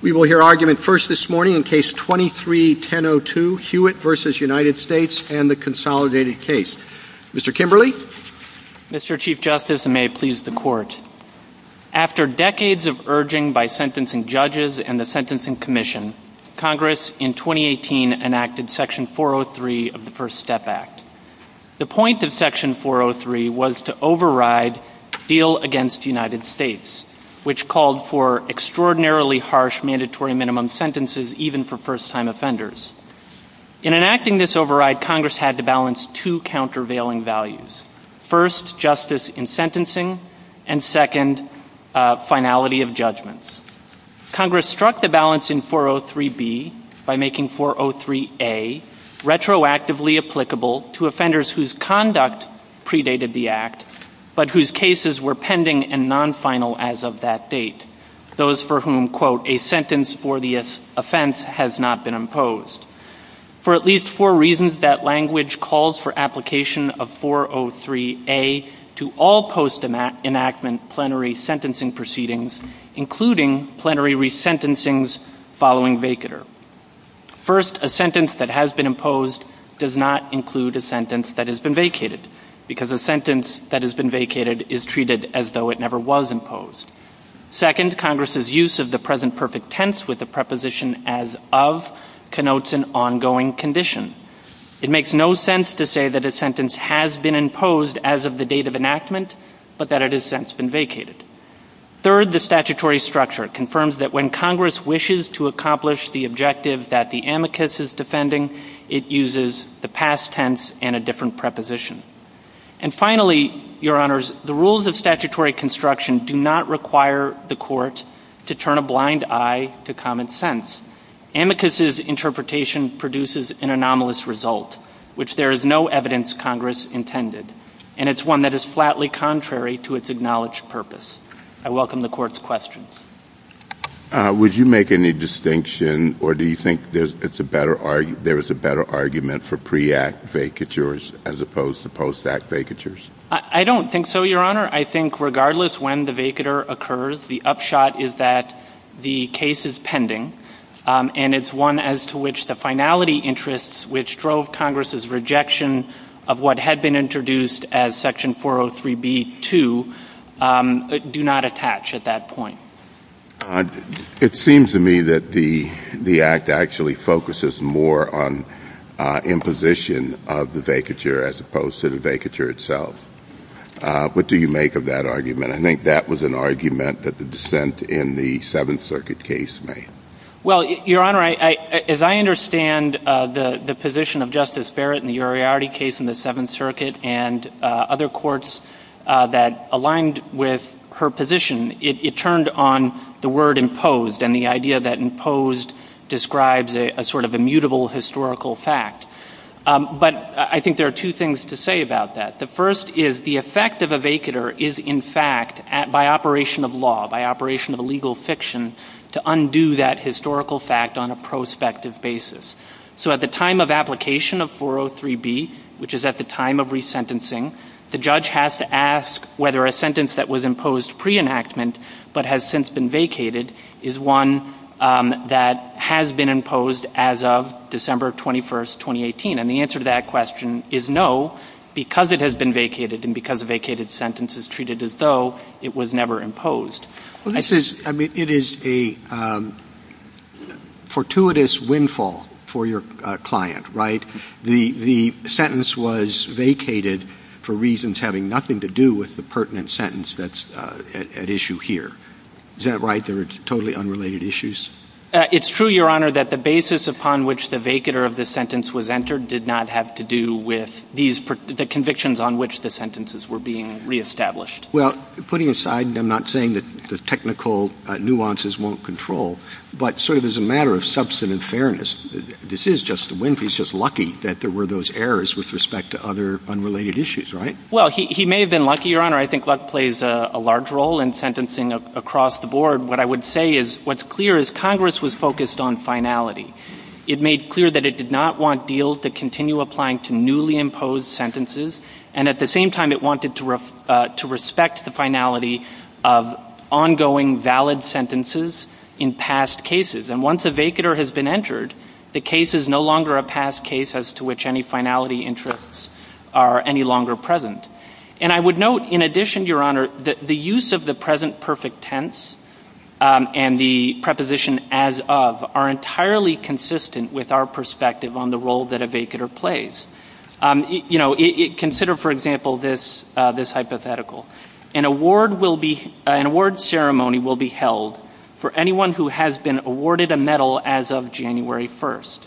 We will hear argument first this morning in Case 23-1002, Hewitt v. United States and the Consolidated Case. Mr. Kimberley? Mr. Chief Justice, and may it please the Court, after decades of urging by sentencing judges and the Sentencing Commission, Congress in 2018 enacted Section 403 of the First Step Act. The point of Section 403 was to override the bill against United States, which called for extraordinarily harsh mandatory minimum sentences even for first-time offenders. In enacting this override, Congress had to balance two countervailing values, first, justice in sentencing, and second, finality of judgments. Congress struck the balance in 403B by making 403A retroactively applicable to offenders whose conduct predated the Act, but whose cases were pending and non-final as of that date, those for whom, quote, a sentence for the offense has not been imposed. For at least four reasons, that language calls for application of 403A to all post-enactment plenary sentencing proceedings, including plenary resentencings following vacatur. First, a sentence that has been imposed does not include a sentence that has been vacated, because a sentence that has been vacated is treated as though it never was imposed. Second, Congress's use of the present perfect tense with the preposition as of connotes an ongoing condition. It makes no sense to say that a sentence has been imposed as of the date of enactment, but that it has since been vacated. Third, the statutory structure confirms that when Congress wishes to accomplish the objective that the amicus is defending, it uses the past tense and a different preposition. And finally, Your Honors, the rules of statutory construction do not require the Court to turn a blind eye to common sense. Amicus's interpretation produces an anomalous result, which there is no evidence Congress intended, and it's one that is flatly contrary to its acknowledged purpose. I welcome the Court's questions. Would you make any distinction, or do you think there's a better argument for pre-Act vacatures as opposed to post-Act vacatures? I don't think so, Your Honor. I think regardless when the vacatur occurs, the upshot is that the case is pending, and it's one as to which the finality interests, which drove Congress's rejection of what had been introduced as Section 403b-2, do not attach at that point. It seems to me that the Act actually focuses more on imposition of the vacatur as opposed to the vacatur itself. What do you make of that argument? I think that was an argument that the dissent in the Seventh Circuit case made. Well, Your Honor, as I understand the position of Justice Barrett in the Uriarte case in the Seventh Circuit and other courts that aligned with her position, it turned on the word imposed and the idea that imposed describes a sort of immutable historical fact. But I think there are two things to say about that. The first is the effect of a vacatur is, in fact, by operation of law, by operation of legal fiction, to undo that historical fact on a prospective basis. So at the time of application of 403b, which is at the time of resentencing, the judge has to ask whether a sentence that was imposed pre-enactment but has since been vacated is one that has been imposed as of December 21st, 2018. And the answer to that question is no, because it has been vacated and because a vacated sentence is treated as though it was never imposed. Well, this is, I mean, it is a fortuitous windfall for your client, right? The sentence was vacated for reasons having nothing to do with the pertinent sentence that's at issue here. Is that right? They were totally unrelated issues? It's true, Your Honor, that the basis upon which the vacatur of the sentence was entered did not have to do with the convictions on which the sentences were being reestablished. Well, putting aside, I'm not saying that the technical nuances won't control, but sort of as a matter of substantive fairness, this is just, Winfrey's just lucky that there were those errors with respect to other unrelated issues, right? Well, he may have been lucky, Your Honor. I think luck plays a large role in sentencing across the board. What I would say is what's clear is Congress was focused on finality. It made clear that it did not want Diehl to continue applying to newly imposed sentences, and at the same time, it wanted to respect the finality of ongoing valid sentences in past cases, and once a vacatur has been entered, the case is no longer a past case as to which any finality interests are any longer present, and I would note, in addition, Your Honor, the use of the present perfect tense and the preposition as of are entirely consistent with our perspective on the role that a vacatur plays. You know, consider, for example, this hypothetical. An award ceremony will be held for anyone who has been awarded a medal as of January 1st,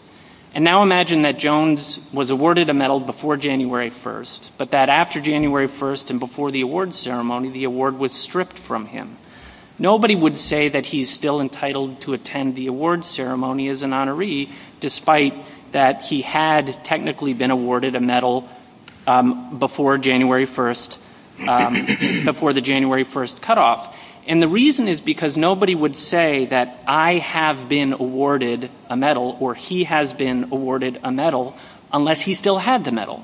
and now imagine that Jones was awarded a medal before January 1st, but that after January 1st and before the award ceremony, the award was stripped from him. Nobody would say that he's still entitled to attend the award ceremony as an honoree, despite that he had technically been awarded a medal before the January 1st cutoff, and the reason is because nobody would say that I have been awarded a medal or he has been awarded a medal unless he still had the medal.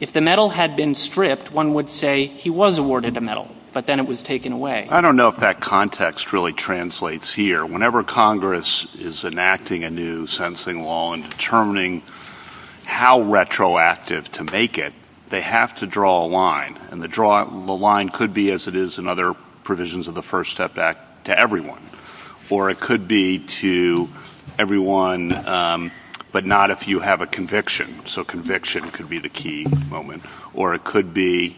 If the medal had been stripped, one would say he was awarded a medal, but then it was taken away. I don't know if that context really translates here. Whenever Congress is enacting a new sentencing law and determining how retroactive to make it, they have to draw a line, and the line could be as it is in other provisions of the First Step Act to everyone, or it could be to everyone but not if you have a conviction. So conviction could be the key moment, or it could be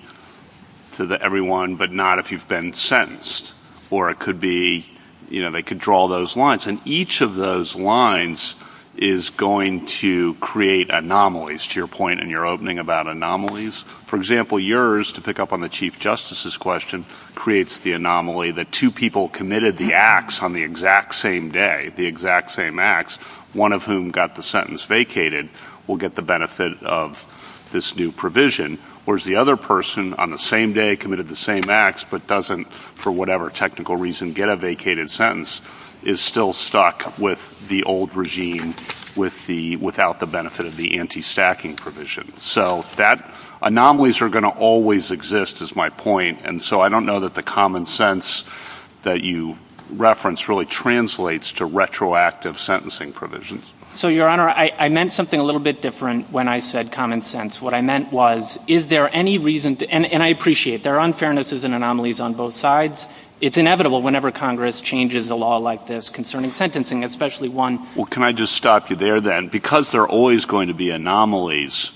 to everyone but not if you've been sentenced, or it could be they could draw those lines, and each of those lines is going to create anomalies. To your point in your opening about anomalies, for example, yours, to pick up on the Chief Justice's question, creates the anomaly that two people committed the acts on the exact same day, the exact same acts. One of whom got the sentence vacated will get the benefit of this new provision, whereas the other person on the same day committed the same acts but doesn't, for whatever technical reason, get a vacated sentence, is still stuck with the old regime without the benefit of the anti-stacking provision. So anomalies are going to always exist is my point, and so I don't know that the common sense that you referenced really translates to retroactive sentencing provisions. So, Your Honor, I meant something a little bit different when I said common sense. What I meant was, is there any reason, and I appreciate there are unfairnesses and anomalies on both sides. It's inevitable whenever Congress changes a law like this concerning sentencing, especially one. Well, can I just stop you there then? Because there are always going to be anomalies,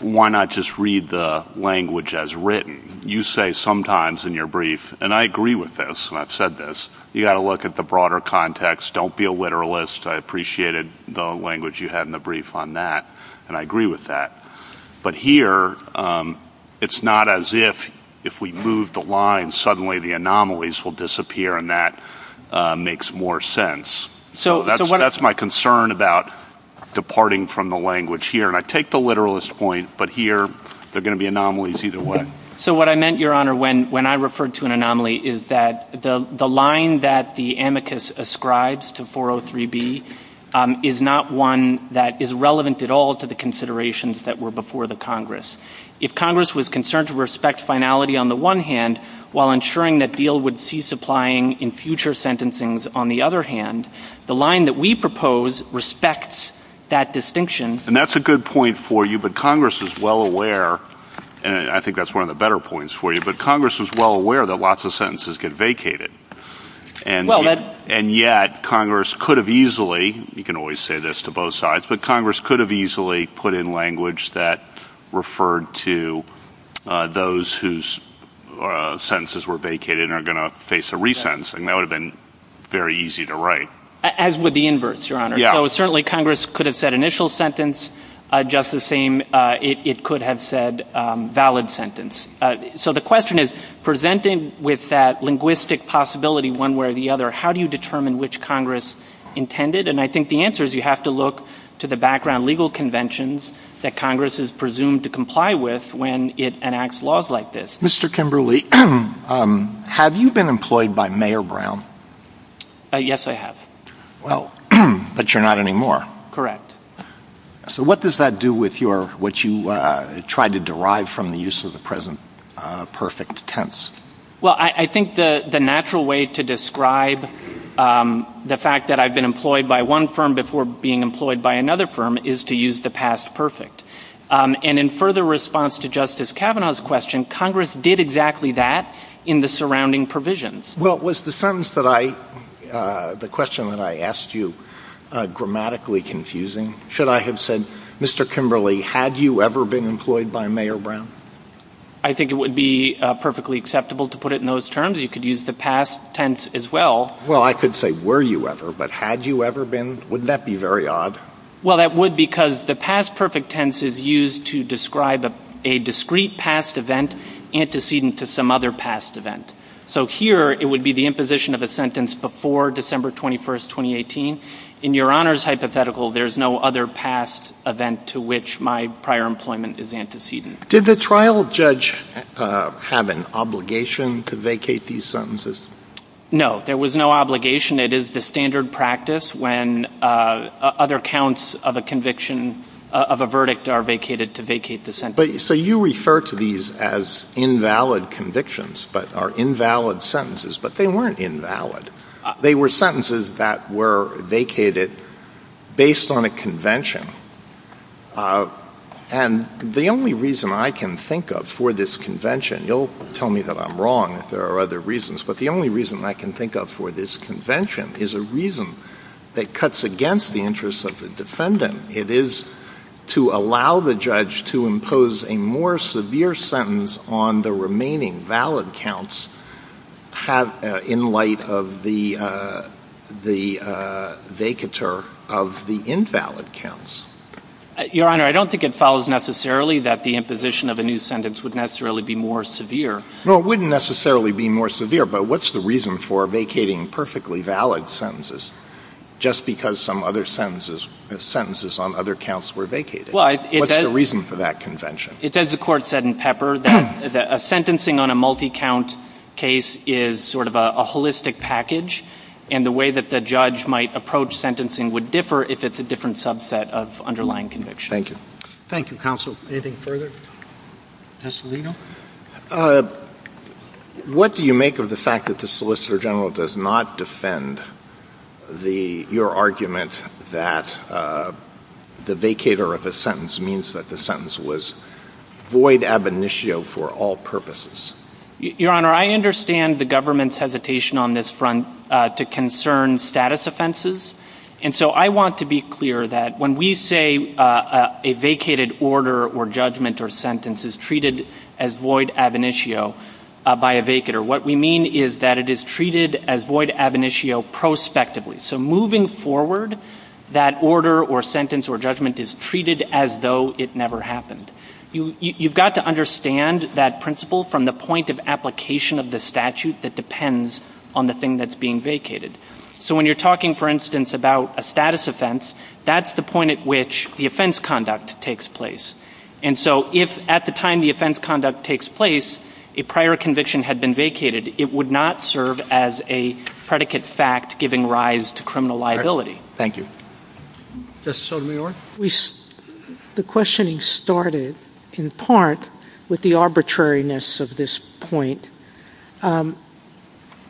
why not just read the language as written? You say sometimes in your brief, and I agree with this, and I've said this, you got to look at the broader context, don't be a literalist. I appreciated the language you had in the brief on that, and I agree with that. But here, it's not as if, if we move the lines, suddenly the anomalies will disappear and that makes more sense. So that's my concern about departing from the language here. And I take the literalist point, but here, there are going to be anomalies either way. So what I meant, Your Honor, when I referred to an anomaly is that the line that the amicus ascribes to 403B is not one that is relevant at all to the considerations that were before the Congress. If Congress was concerned to respect finality on the one hand while ensuring that deal would cease applying in future sentencing on the other hand, the line that we propose respects that distinction. And that's a good point for you, but Congress is well aware, and I think that's one of the better points for you, but Congress is well aware that lots of sentences get vacated. And yet, Congress could have easily, you can always say this to both sides, but Congress could have easily put in language that referred to those whose sentences were vacated and are going to face a resentencing. That would have been very easy to write. As would the inverts, Your Honor. So certainly, Congress could have said initial sentence just the same. It could have said valid sentence. So the question is, presenting with that linguistic possibility one way or the other, how do you determine which Congress intended? And I think the answer is you have to look to the background legal conventions that Congress is presumed to comply with when it enacts laws like this. Mr. Kimberly, have you been employed by Mayor Brown? Yes, I have. Well, but you're not anymore. Correct. So what does that do with your, what you tried to derive from the use of the present perfect tense? Well, I think the natural way to describe the fact that I've been employed by one firm before being employed by another firm is to use the past perfect. And in further response to Justice Kavanaugh's question, Congress did exactly that in the surrounding provisions. Well, was the sentence that I, the question that I asked you grammatically confusing? Should I have said, Mr. Kimberly, had you ever been employed by Mayor Brown? I think it would be perfectly acceptable to put it in those terms. You could use the past tense as well. Well, I could say, were you ever? But had you ever been? Wouldn't that be very odd? Well, that would because the past perfect tense is used to describe a discrete past event antecedent to some other past event. So here, it would be the imposition of a sentence before December 21st, 2018. In Your Honor's hypothetical, there's no other past event to which my prior employment is antecedent. Did the trial judge have an obligation to vacate these sentences? No, there was no obligation. It is the standard practice when other counts of a conviction, of a verdict are vacated to vacate the sentence. So you refer to these as invalid convictions, but are invalid sentences. But they weren't invalid. They were sentences that were vacated based on a convention. And the only reason I can think of for this convention, you'll tell me that I'm wrong if there are other reasons, but the only reason I can think of for this convention is a reason that cuts against the interests of the defendant. It is to allow the judge to impose a more severe sentence on the remaining valid counts in light of the vacatur of the invalid counts. Your Honor, I don't think it follows necessarily that the imposition of a new sentence would necessarily be more severe. No, it wouldn't necessarily be more severe, but what's the reason for vacating perfectly valid sentences just because some other sentences on other counts were vacated? What's the reason for that convention? It's as the Court said in Pepper, that a sentencing on a multi-count case is sort of a holistic package, and the way that the judge might approach sentencing would differ if it's a different subset of underlying conviction. Thank you. Thank you, counsel. Anything further? Justice Alito? What do you make of the fact that the Solicitor General does not defend your argument that the vacatur of the sentence means that the sentence was void ab initio for all purposes? Your Honor, I understand the government's hesitation on this front to concern status offenses, and so I want to be clear that when we say a vacated order or judgment or sentence is treated as void ab initio by a vacatur, what we mean is that it is treated as void ab initio prospectively. So moving forward, that order or sentence or judgment is treated as though it never happened. You've got to understand that principle from the point of application of the statute that depends on the thing that's being vacated. So when you're talking, for instance, about a status offense, that's the point at which the offense conduct takes place. And so if at the time the offense conduct takes place, a prior conviction had been vacated, it would not serve as a predicate fact giving rise to criminal liability. Thank you. Justice Sotomayor? We... the questioning started in part with the arbitrariness of this point.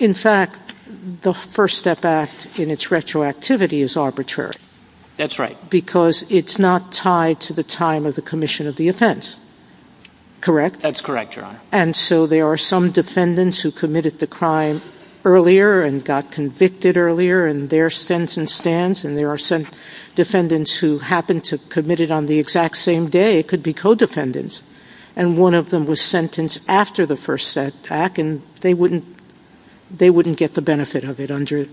In fact, the First Step Act in its retroactivity is arbitrary. That's right. Because it's not tied to the time of the commission of the offense. Correct? That's correct, Your Honor. And so there are some defendants who committed the crime earlier and got convicted earlier in their sense and stance, and there are some defendants who happened to commit it on the exact same day. It could be co-defendants. And one of them was sentenced after the First Step Act and they wouldn't get the benefit of it under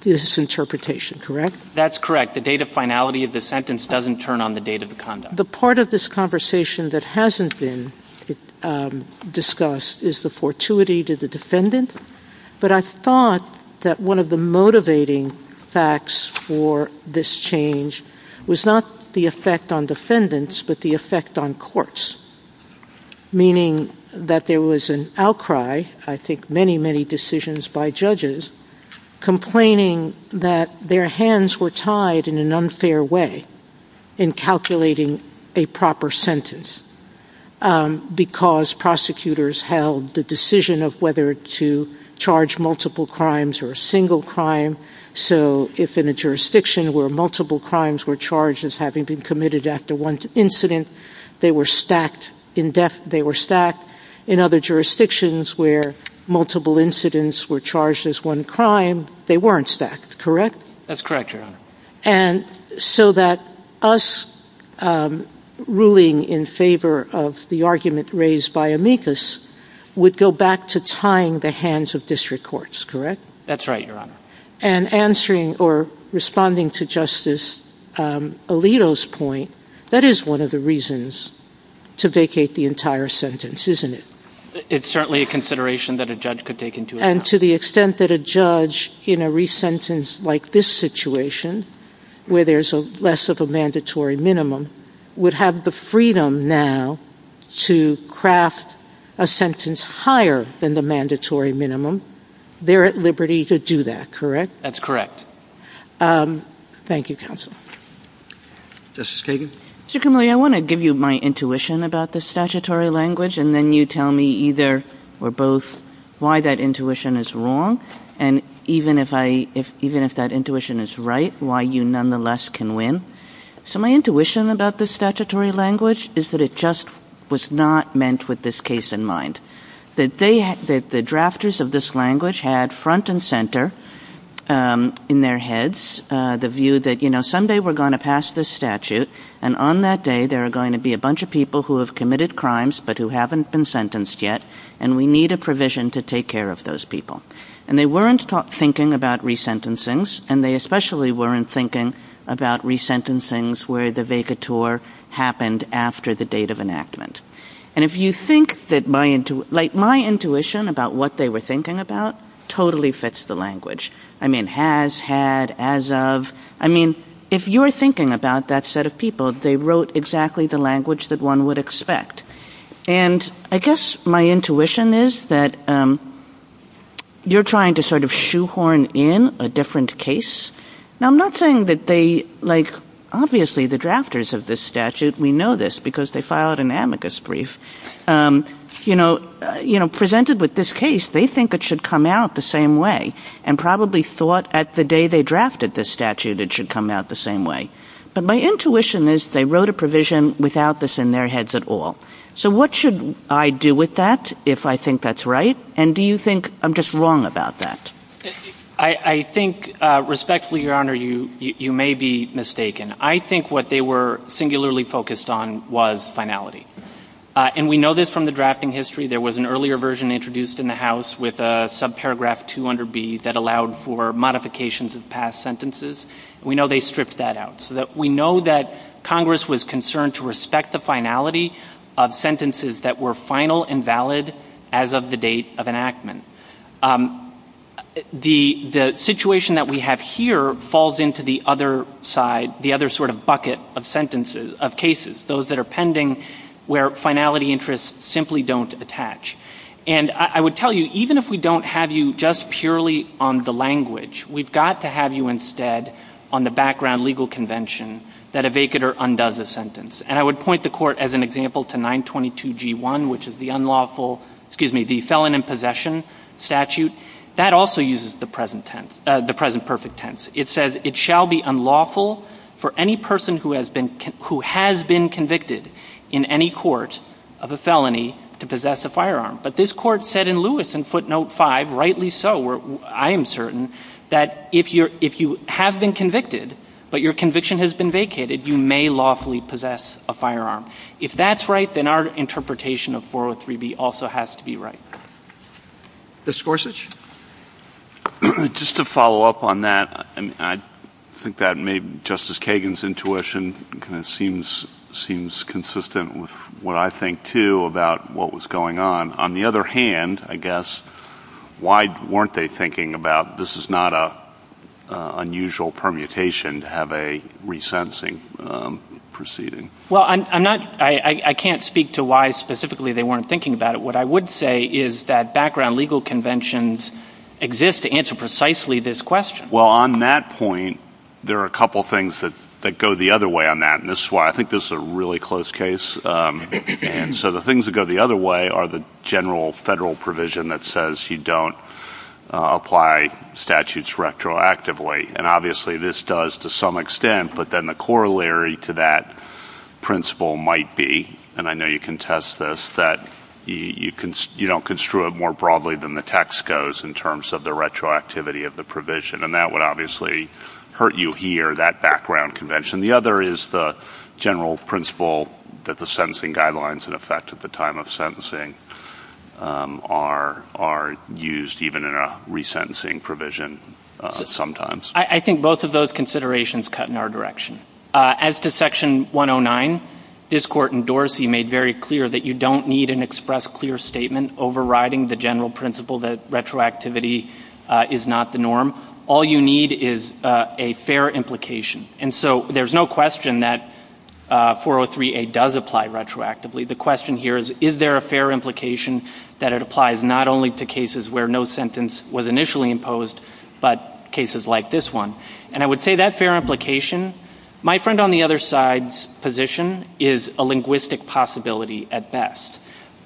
this interpretation. Correct? That's correct. The date of finality of the sentence doesn't turn on the date of the conduct. The part of this conversation that hasn't been discussed is the fortuity to the defendant. But I thought that one of the motivating facts for this change was not the effect on defendants but the effect on courts. Meaning that there was an outcry, I think many, many decisions by judges, complaining that their hands were tied in an unfair way in calculating a proper sentence because prosecutors held the decision of whether to charge multiple crimes or a single crime. So if in a jurisdiction where multiple crimes were charged as having been committed after one incident, they were stacked in other jurisdictions where multiple incidents were charged as one crime, they weren't stacked. Correct? That's correct, Your Honor. And so that us ruling in favor of the argument raised by amicus would go back to tying the hands of district courts, correct? That's right, Your Honor. And answering or responding to Justice Alito's point, that is one of the reasons to vacate the entire sentence, isn't it? It's certainly a consideration that a judge could take into account. And to the extent that a judge in a re-sentence like this situation, where there's less of a mandatory minimum, would have the freedom now to craft a sentence higher than the mandatory minimum, they're at liberty to do that, correct? That's correct. Thank you, counsel. Justice Kagan? Mr. Kimley, I want to give you my intuition about the statutory language, and then you tell me either or both why that intuition is wrong, and even if that intuition is right, why you nonetheless can win. So my intuition about the statutory language is that it just was not meant with this case in mind, that the drafters of this language had front and center in their heads the view that someday we're going to pass this statute, and on that day there are going to be a bunch of people who have committed crimes, but who haven't been sentenced yet, and we need a provision to take care of those people. And they weren't thinking about re-sentencings, and they especially weren't thinking about re-sentencings where the vacatur happened after the date of enactment. And if you think that my intuition about what they were thinking about totally fits the language. I mean, has, had, as of. I mean, if you're thinking about that set of people, they wrote exactly the language that one would expect. And I guess my intuition is that you're trying to sort of shoehorn in a different case. Now, I'm not saying that they, like, obviously the drafters of this statute, we know this because they filed an amicus brief, you know, presented with this case, they think it should come out the same way, and probably thought at the day they drafted this statute it should come out the same way. But my intuition is they wrote a provision without this in their heads at all. So what should I do with that if I think that's right? And do you think I'm just wrong about that? I think, respectfully, Your Honor, you may be mistaken. I think what they were singularly focused on was finality. And we know this from the drafting history. There was an earlier version introduced in the House with a subparagraph 200B that allowed for modifications of past sentences. We know they stripped that out. So that we know that Congress was concerned to respect the finality of sentences that were final and valid as of the date of enactment. The situation that we have here falls into the other side, the other sort of bucket of sentences, of cases, those that are pending, where finality interests simply don't attach. And I would tell you, even if we don't have you just purely on the language, we've got to have you instead on the background legal convention that a vacater undoes a sentence. And I would point the court, as an example, to 922G1, which is the unlawful, excuse me, the felon in possession statute. That also uses the present perfect tense. It says, it shall be unlawful for any person who has been convicted in any court of a felony to possess a firearm. But this court said in Lewis in footnote 5, rightly so, I am certain, that if you have been convicted, but your conviction has been vacated, you may lawfully possess a firearm. If that's right, then our interpretation of 403B also has to be right. Mr. Gorsuch? Just to follow up on that, I think that maybe Justice Kagan's intuition kind of seems consistent with what I think, too, about what was going on. On the other hand, I guess, why weren't they thinking about, this is not an unusual permutation to have a resensing proceeding. Well, I can't speak to why specifically they weren't thinking about it. What I would say is that background legal conventions exist to answer precisely this question. Well, on that point, there are a couple of things that go the other way on that. And this is why I think this is a really close case. And so the things that go the other way are the general federal provision that says you don't apply statutes retroactively. And obviously, this does to some extent. But then the corollary to that principle might be, and I know you can test this, that you don't construe it more broadly than the text goes in terms of the retroactivity of the provision. And that would obviously hurt you here, that background convention. The other is the general principle that the sentencing guidelines, in effect at the time of sentencing, are used even in a resentencing provision sometimes. I think both of those considerations cut in our direction. As to Section 109, Biscort and Dorsey made very clear that you don't need an express clear statement overriding the general principle that retroactivity is not the norm. All you need is a fair implication. And so there's no question that 403A does apply retroactively. The question here is, is there a fair implication that it applies not only to cases where no sentence was initially imposed, but cases like this one? And I would say that fair implication, my friend on the other side's position, is a linguistic possibility at best.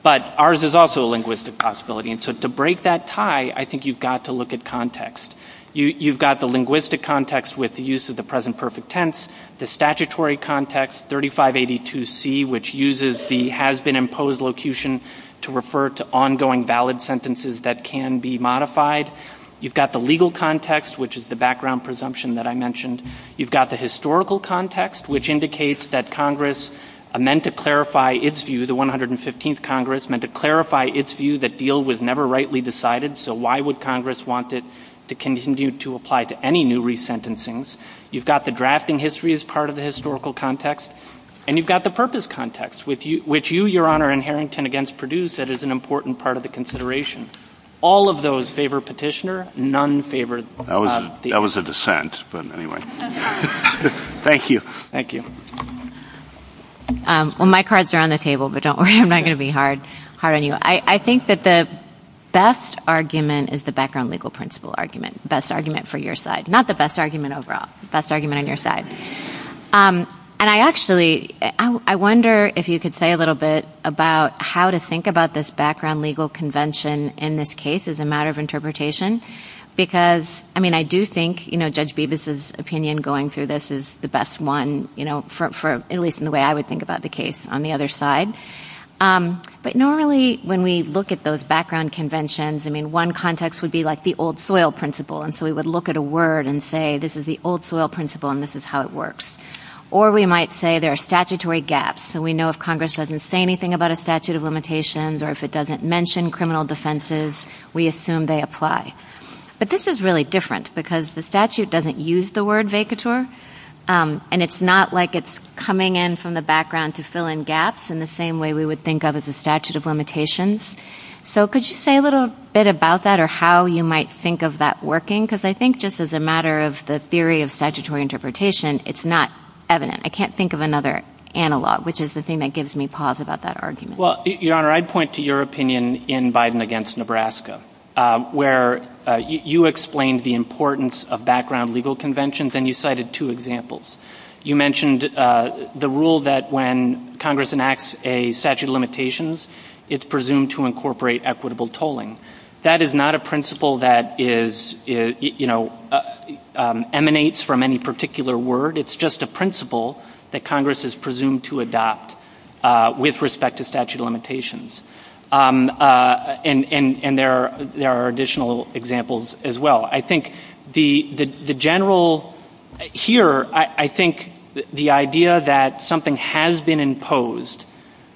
But ours is also a linguistic possibility. And so to break that tie, I think you've got to look at context. You've got the linguistic context with the use of the present perfect tense, the statutory context, 3582C, which uses the has-been-imposed locution to refer to ongoing valid sentences that can be modified. You've got the legal context, which is the background presumption that I mentioned. You've got the historical context, which indicates that Congress meant to clarify its view, the 115th Congress, meant to clarify its view that deal was never rightly decided. So why would Congress want it to continue to apply to any new resentencings? You've got the drafting history as part of the historical context. And you've got the purpose context, which you, Your Honor, inherent in against Perdue said is an important part of the consideration. All of those favor Petitioner. None favor... That was a dissent, but anyway. Thank you. Thank you. Well, my cards are on the table, but don't worry. I'm not going to be hard on you. I think that the best argument is the background legal principle argument, best argument for your side, not the best argument overall, best argument on your side. And I actually, I wonder if you could say a little bit about how to think about this background legal convention in this case as a matter of interpretation, because I mean, I do think, you know, Judge Bevis's opinion going through this is the best one, you know, for at least in the way I would think about the case on the other side. But normally when we look at those background conventions, I mean, context would be like the old soil principle. And so we would look at a word and say, this is the old soil principle, and this is how it works. Or we might say there are statutory gaps. So we know if Congress doesn't say anything about a statute of limitations, or if it doesn't mention criminal defenses, we assume they apply. But this is really different because the statute doesn't use the word vacatur. And it's not like it's coming in from the background to fill in gaps in the same way we would think of as a statute of limitations. So could you say a little bit about that or how you might think of that working? Because I think just as a matter of the theory of statutory interpretation, it's not evident. I can't think of another analog, which is the thing that gives me pause about that argument. Well, Your Honor, I'd point to your opinion in Biden against Nebraska, where you explained the importance of background legal conventions, and you cited two examples. You mentioned the rule that when Congress enacts a statute of limitations, it's presumed to incorporate equitable tolling. That is not a principle that emanates from any particular word. It's just a principle that Congress is presumed to adopt with respect to statute of limitations. And there are additional examples as well. I think the general here, I think the idea that something has been imposed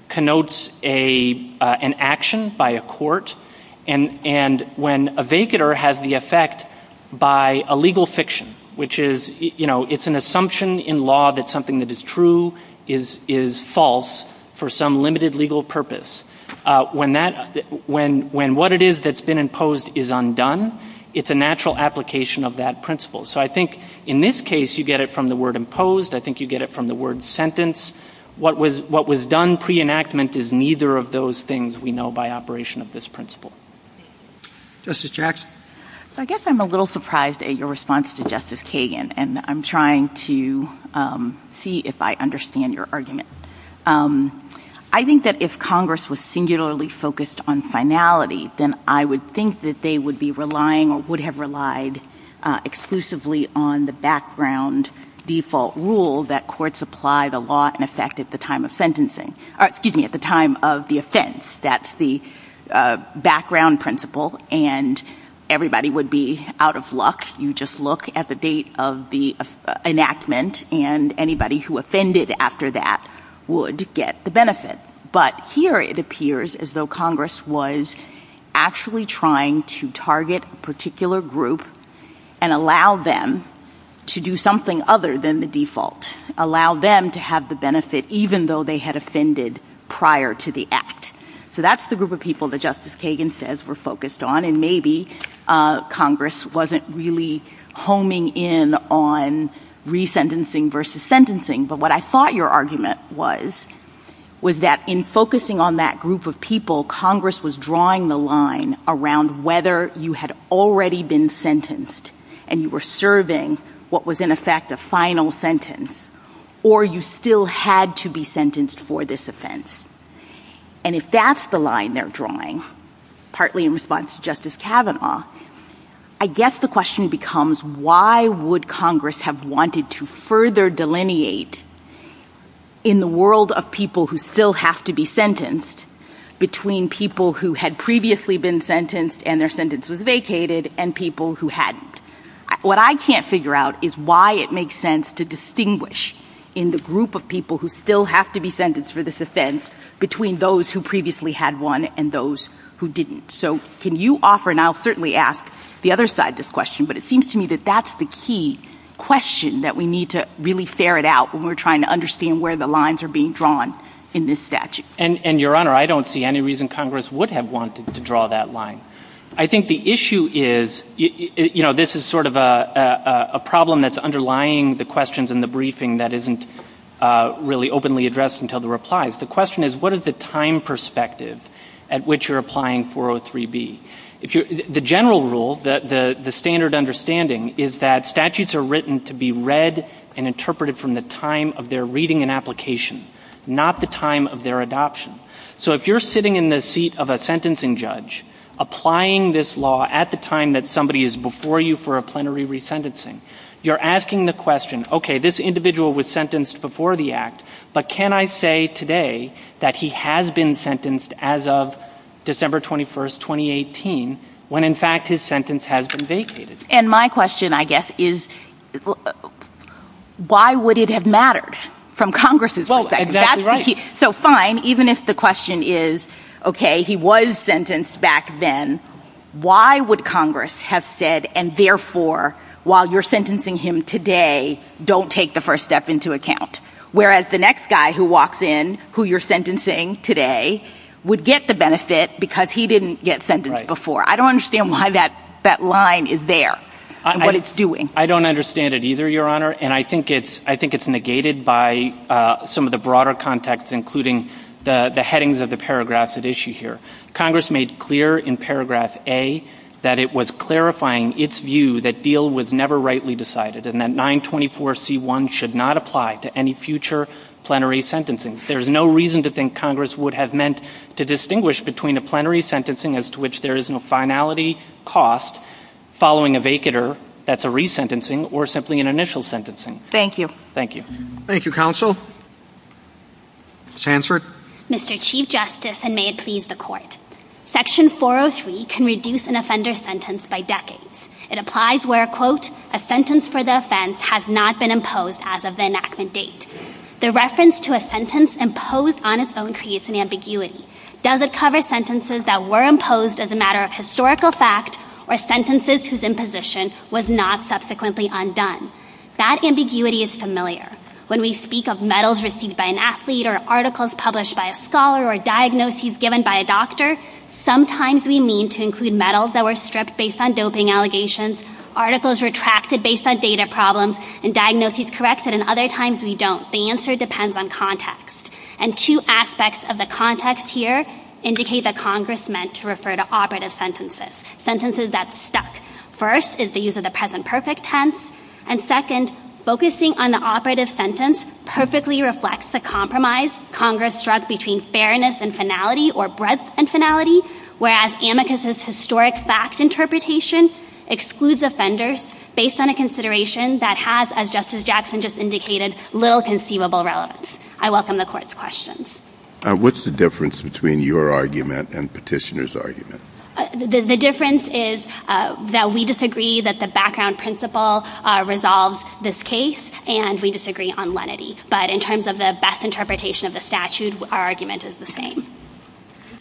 connotes an action by a court. And when a vacater has the effect by a legal fiction, which is, you know, it's an assumption in law that something that is true is false for some limited legal purpose. When what it is that's been imposed is undone, it's a natural application of that principle. So I think in this case, you get it from the word imposed. I think you get it from the word sentence. What was done pre-enactment is neither of those things we know by operation of this principle. Justice Jackson. So I guess I'm a little surprised at your response to Justice Kagan, and I'm trying to see if I understand your argument. I think that if Congress was singularly focused on finality, then I would think that they would be relying or would have relied exclusively on the background default rule that courts apply the law in effect at the time of sentencing, excuse me, at the time of the offense. That's the background principle. And everybody would be out of luck. You just look at the date of the enactment, and anybody who offended after that would get the benefit. But here it appears as though Congress was actually trying to target a particular group and allow them to do something other than the default, allow them to have the benefit even though they had offended prior to the act. So that's the group of people that Justice Kagan says we're focused on. And maybe Congress wasn't really homing in on resentencing versus sentencing. But what I thought your argument was, was that in focusing on that group of people, Congress was drawing the line around whether you had already been sentenced and you were serving what was in effect a final sentence, or you still had to be sentenced for this offense. And if that's the line they're drawing, partly in response to Justice Kavanaugh, I guess the question becomes why would Congress have wanted to further delineate in the world of people who still have to be sentenced between people who had previously been sentenced and their sentence was vacated and people who hadn't. What I can't figure out is why it makes sense to distinguish in the group of people who still have to be sentenced for this offense between those who previously had one and those who didn't. So can you offer, and I'll certainly ask the other side this question, but it seems to me that that's the key question that we need to really ferret out when we're trying to understand where the lines are being drawn in this statute. And Your Honor, I don't see any reason Congress would have wanted to draw that line. I think the issue is, you know, this is sort of a problem that's underlying the questions in the briefing that isn't really openly addressed until the replies. The question is, what is the time perspective at which you're applying 403B? The general rule, the standard understanding, is that statutes are written to be read and interpreted from the time of their reading and application, not the time of their adoption. So if you're sitting in the seat of a sentencing judge applying this law at the time that somebody is before you for a plenary resentencing, you're asking the question, okay, this individual was sentenced before the act, but can I say today that he has been sentenced as of December 21st, 2018, when in fact his sentence has been vacated? And my question, I guess, is why would it have mattered from Congress's perspective? Well, exactly right. So fine, even if the question is, okay, he was sentenced back then, why would Congress have said, and therefore, while you're sentencing him today, don't take the first step into account? Whereas the next guy who walks in, who you're sentencing today, would get the benefit because he didn't get sentenced before. I don't understand why that line is there and what it's doing. I don't understand it either, Your Honor. And I think it's negated by some of the broader context, including the headings of the paragraphs at issue here. Congress made clear in paragraph A that it was clarifying its view that deal was never rightly decided and that 924C1 should not apply to any future plenary sentencing. There's no reason to think Congress would have meant to distinguish between a plenary finality cost following a vacater, that's a resentencing, or simply an initial sentencing. Thank you. Thank you. Thank you, Counsel. Ms. Hansford? Mr. Chief Justice, and may it please the Court, Section 403 can reduce an offender's sentence by decades. It applies where, quote, a sentence for the offense has not been imposed as of the enactment date. The reference to a sentence imposed on its own creates an ambiguity. Does it cover sentences that were imposed as a matter of historical fact or sentences whose imposition was not subsequently undone? That ambiguity is familiar. When we speak of medals received by an athlete or articles published by a scholar or diagnoses given by a doctor, sometimes we mean to include medals that were stripped based on doping allegations, articles retracted based on data problems, and diagnoses corrected, and other times we don't. The answer depends on context. And two aspects of the context here indicate that Congress meant to refer to operative sentences, sentences that stuck. First is the use of the present perfect tense, and second, focusing on the operative sentence perfectly reflects the compromise Congress struck between fairness and finality or breadth and finality, whereas amicus' historic fact interpretation excludes offenders based on a consideration that has, as Justice Jackson just indicated, little conceivable relevance. I welcome the court's questions. What's the difference between your argument and petitioner's argument? The difference is that we disagree that the background principle resolves this case and we disagree on lenity. But in terms of the best interpretation of the statute, our argument is the same. Do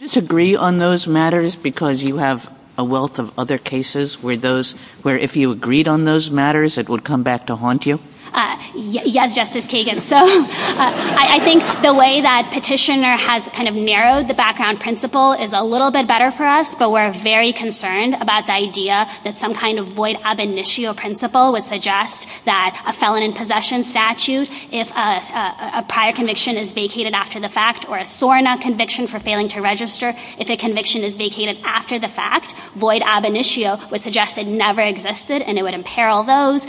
you disagree on those matters because you have a wealth of other cases where if you agreed on those matters, it would come back to haunt you? Yes, Justice Kagan. So I think the way that petitioner has kind of narrowed the background principle is a little bit better for us, but we're very concerned about the idea that some kind of void ab initio principle would suggest that a felon in possession statute, if a prior conviction is vacated after the fact or a SOAR not conviction for failing to register, if a conviction is vacated after the fact, void ab initio would suggest it never existed and it would imperil those.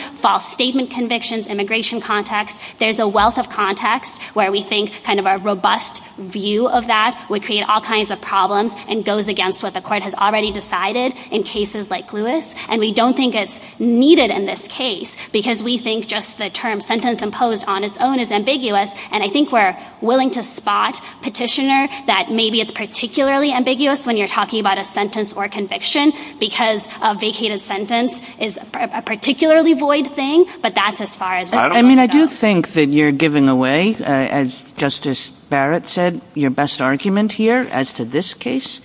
Statement convictions, immigration context. There's a wealth of context where we think kind of a robust view of that would create all kinds of problems and goes against what the court has already decided in cases like Lewis. And we don't think it's needed in this case because we think just the term sentence imposed on its own is ambiguous. And I think we're willing to spot petitioner that maybe it's particularly ambiguous when you're talking about a sentence or conviction because a vacated sentence is a particularly void thing. But that's as far as I mean, I do think that you're giving away, as Justice Barrett said, your best argument here as to this case.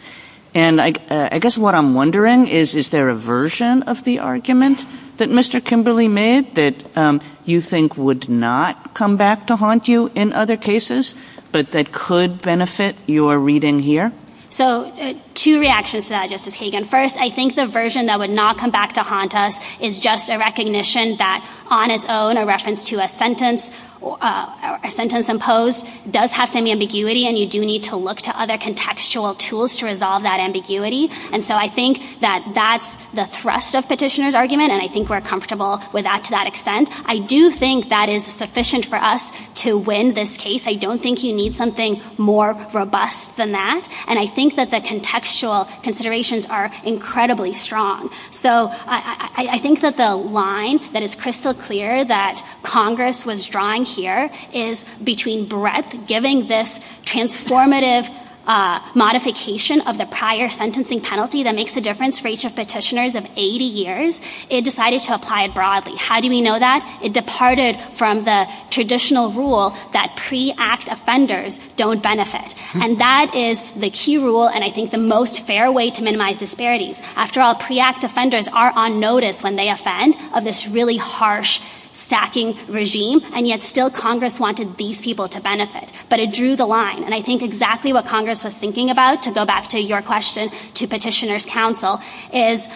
And I guess what I'm wondering is, is there a version of the argument that Mr. Kimberly made that you think would not come back to haunt you in other cases, but that could benefit your reading here? So two reactions to that, Justice Hagan. First, I think the version that would not come back to haunt us is just a recognition that on its own, a reference to a sentence imposed does have some ambiguity. And you do need to look to other contextual tools to resolve that ambiguity. And so I think that that's the thrust of petitioner's argument. And I think we're comfortable with that to that extent. I do think that is sufficient for us to win this case. I don't think you need something more robust than that. And I think that the contextual considerations are incredibly strong. So I think that the line that is crystal clear that Congress was drawing here is between Brett giving this transformative modification of the prior sentencing penalty that makes a difference for each of petitioners of 80 years. It decided to apply it broadly. How do we know that? It departed from the traditional rule that pre-act offenders don't benefit. And that is the key rule and I think the most fair way to minimize disparities. After all, pre-act offenders are on notice when they offend of this really harsh stacking regime. And yet still Congress wanted these people to benefit. But it drew the line. And I think exactly what Congress was thinking about, to go back to your question to petitioner's counsel, is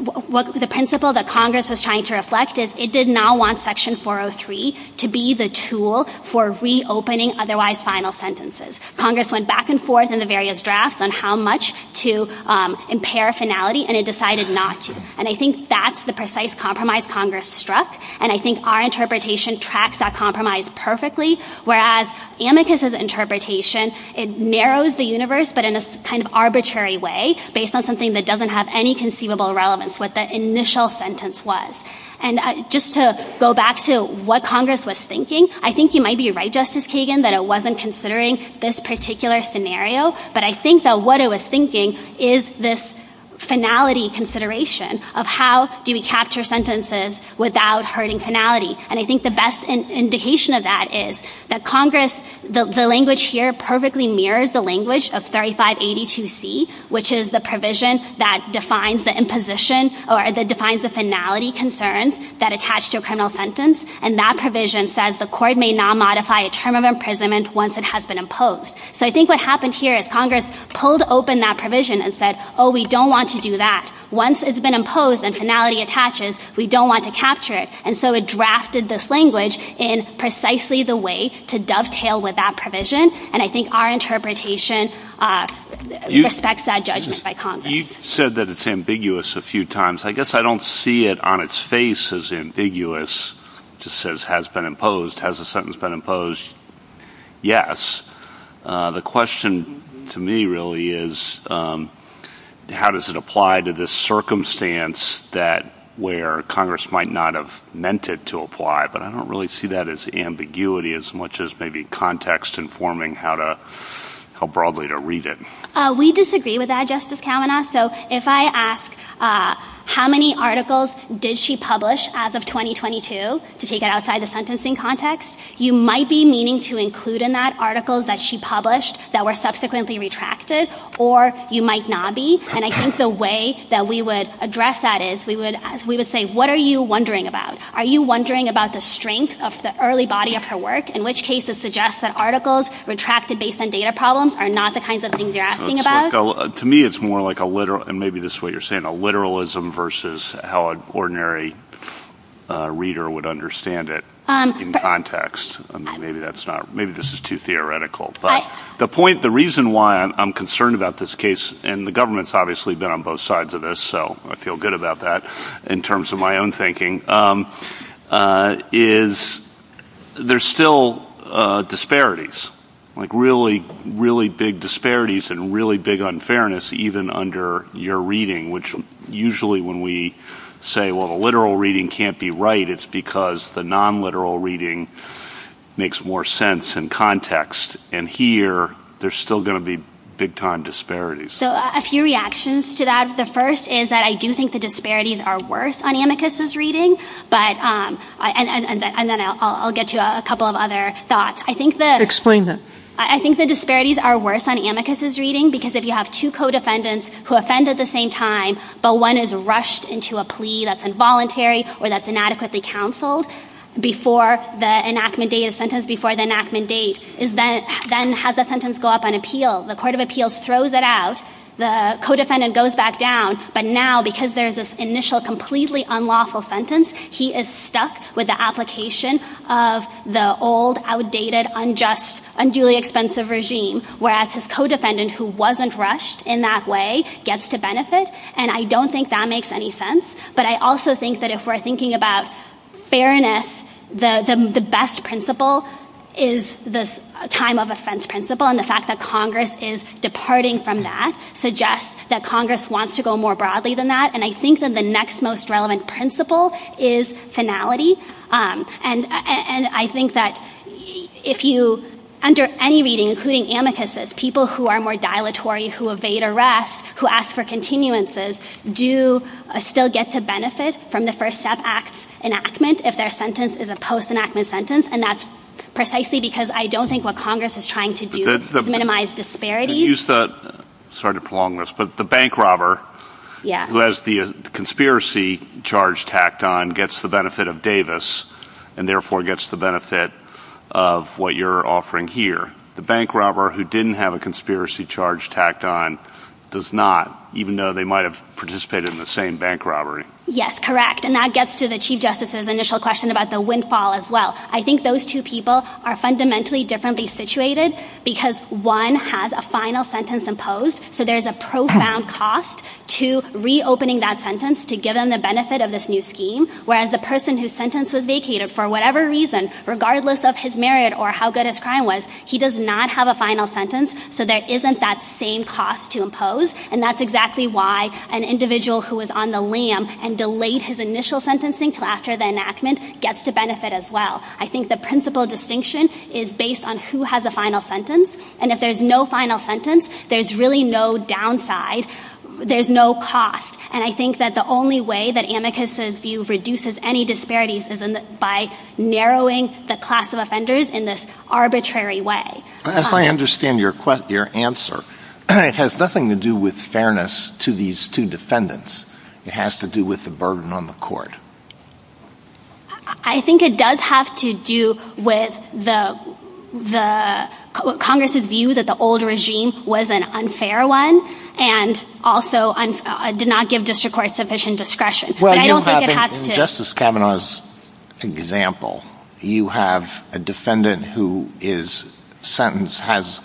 the principle that Congress was trying to reflect is it did not want section 403 to be the tool for reopening otherwise final sentences. Congress went back and forth in the various drafts on how much to impair finality and it decided not to. And I think that's the precise compromise Congress struck. And I think our interpretation tracks that compromise perfectly. Whereas Amicus's interpretation, it narrows the universe but in this kind of arbitrary way based on something that doesn't have any conceivable relevance, what the initial sentence was. And just to go back to what Congress was thinking, I think you might be right, Justice Kagan, that it wasn't considering this particular scenario. But I think that what it was thinking is this finality consideration of how do we capture sentences without hurting finality. And I think the best indication of that is that Congress, the language here perfectly mirrored the language of 3582C, which is the provision that defines the imposition or that defines the finality concerns that attach to a criminal sentence. And that provision says the court may now modify a term of imprisonment once it has been imposed. So I think what happened here is Congress pulled open that provision and said, oh, we don't want to do that. Once it's been imposed and finality attaches, we don't want to capture it. And so it drafted this language in precisely the way to dovetail with that provision. And I think our interpretation respects that judgment by Congress. You said that it's ambiguous a few times. I guess I don't see it on its face as ambiguous. It just says has been imposed. Has a sentence been imposed? Yes. The question to me really is how does it apply to this circumstance that where Congress might not have meant it to apply? But I don't really see that as ambiguity as much as maybe context informing how broadly to read it. We disagree with that, Justice Kavanaugh. So if I ask how many articles did she publish as of 2022, to take it outside the sentencing context, you might be meaning to include in that articles that she published that were subsequently retracted, or you might not be. And I think the way that we would address that is we would say, what are you wondering about? Are you wondering about the strength of the early body of her work, in which case it suggests that articles retracted based on data problems are not the kinds of things you're asking about? To me, it's more like a literal, and maybe this is what you're saying, a literalism versus how an ordinary reader would understand it in context. I mean, maybe that's not, maybe this is too theoretical. But the point, the reason why I'm concerned about this case, and the government's obviously been on both sides of this, so I feel good about that in terms of my own thinking, is there's still disparities, like really, really big disparities and really big unfairness, even under your reading, which usually when we say, well, the literal reading can't be right, it's because the non-literal reading makes more sense in context. And here, there's still going to be big time disparities. So a few reactions to that. The first is that I do think the disparities are worse on Amicus's reading. But, and then I'll get to a couple of other thoughts. I think that... Explain them. I think the disparities are worse on Amicus's reading, because if you have two co-defendants who offend at the same time, but one is rushed into a plea that's involuntary or that's inadequately counseled before the enactment date of sentence, before the enactment date, then has the sentence go up on appeal. The court of appeals throws it out. The co-defendant goes back down. But now, because there's this initial completely unlawful sentence, he is stuck with the application of the old, outdated, unjust, unduly expensive regime, whereas his co-defendant, who wasn't rushed in that way, gets to benefit. And I don't think that makes any sense. But I also think that if we're thinking about fairness, the best principle is the time of offense principle. And the fact that Congress is departing from that suggests that Congress wants to go more broadly than that. And I think that the next most relevant principle is finality. And I think that if you, under any reading, including Amicus's, people who are more dilatory, who evade arrest, who ask for continuances, do still get to benefit from the First Step Act enactment if their sentence is a post-enactment sentence. And that's precisely because I don't think what Congress is trying to do is minimize disparities. Sorry to prolong this, but the bank robber who has the conspiracy charge tacked on gets the benefit of Davis, and therefore gets the benefit of what you're offering here. The bank robber who didn't have a conspiracy charge tacked on does not, even though they might have participated in the same bank robbery. Yes, correct. And that gets to the Chief Justice's initial question about the windfall as well. I think those two people are fundamentally differently situated because one has a final sentence imposed, so there's a profound cost to reopening that sentence to give them the benefit of this new scheme, whereas the person whose sentence was vacated, for whatever reason, regardless of his merit or how good his crime was, he does not have a final sentence, so there isn't that same cost to impose. And that's exactly why an individual who was on the lam and delayed his initial sentencing until after the enactment gets the benefit as well. I think the principal distinction is based on who has a final sentence, and if there's no final sentence, there's really no downside. There's no cost. And I think that the only way that Amicus's view reduces any disparities is by narrowing the class of offenders in this arbitrary way. As I understand your answer, it has nothing to do with fairness to these two defendants. It has to do with the burden on the court. I think it does have to do with the Congress's view that the old regime was an unfair one and also did not give district court sufficient discretion. Well, Justice Kavanaugh's example, you have a defendant who is sentenced, has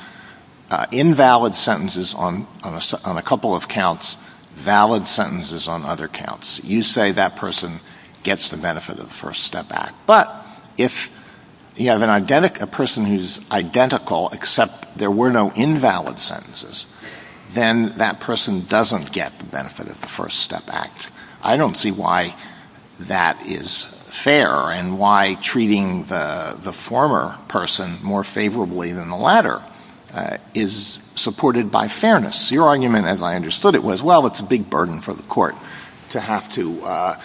invalid sentences on a couple of counts, valid sentences on other counts. You say that person gets the benefit of the First Step Act. But if you have a person who's identical except there were no invalid sentences, then that person doesn't get the benefit of the First Step Act. I don't see why that is fair and why treating the former person more favorably than the latter is supported by fairness. Your argument, as I understood it, was, well, it's a big burden for the court to have to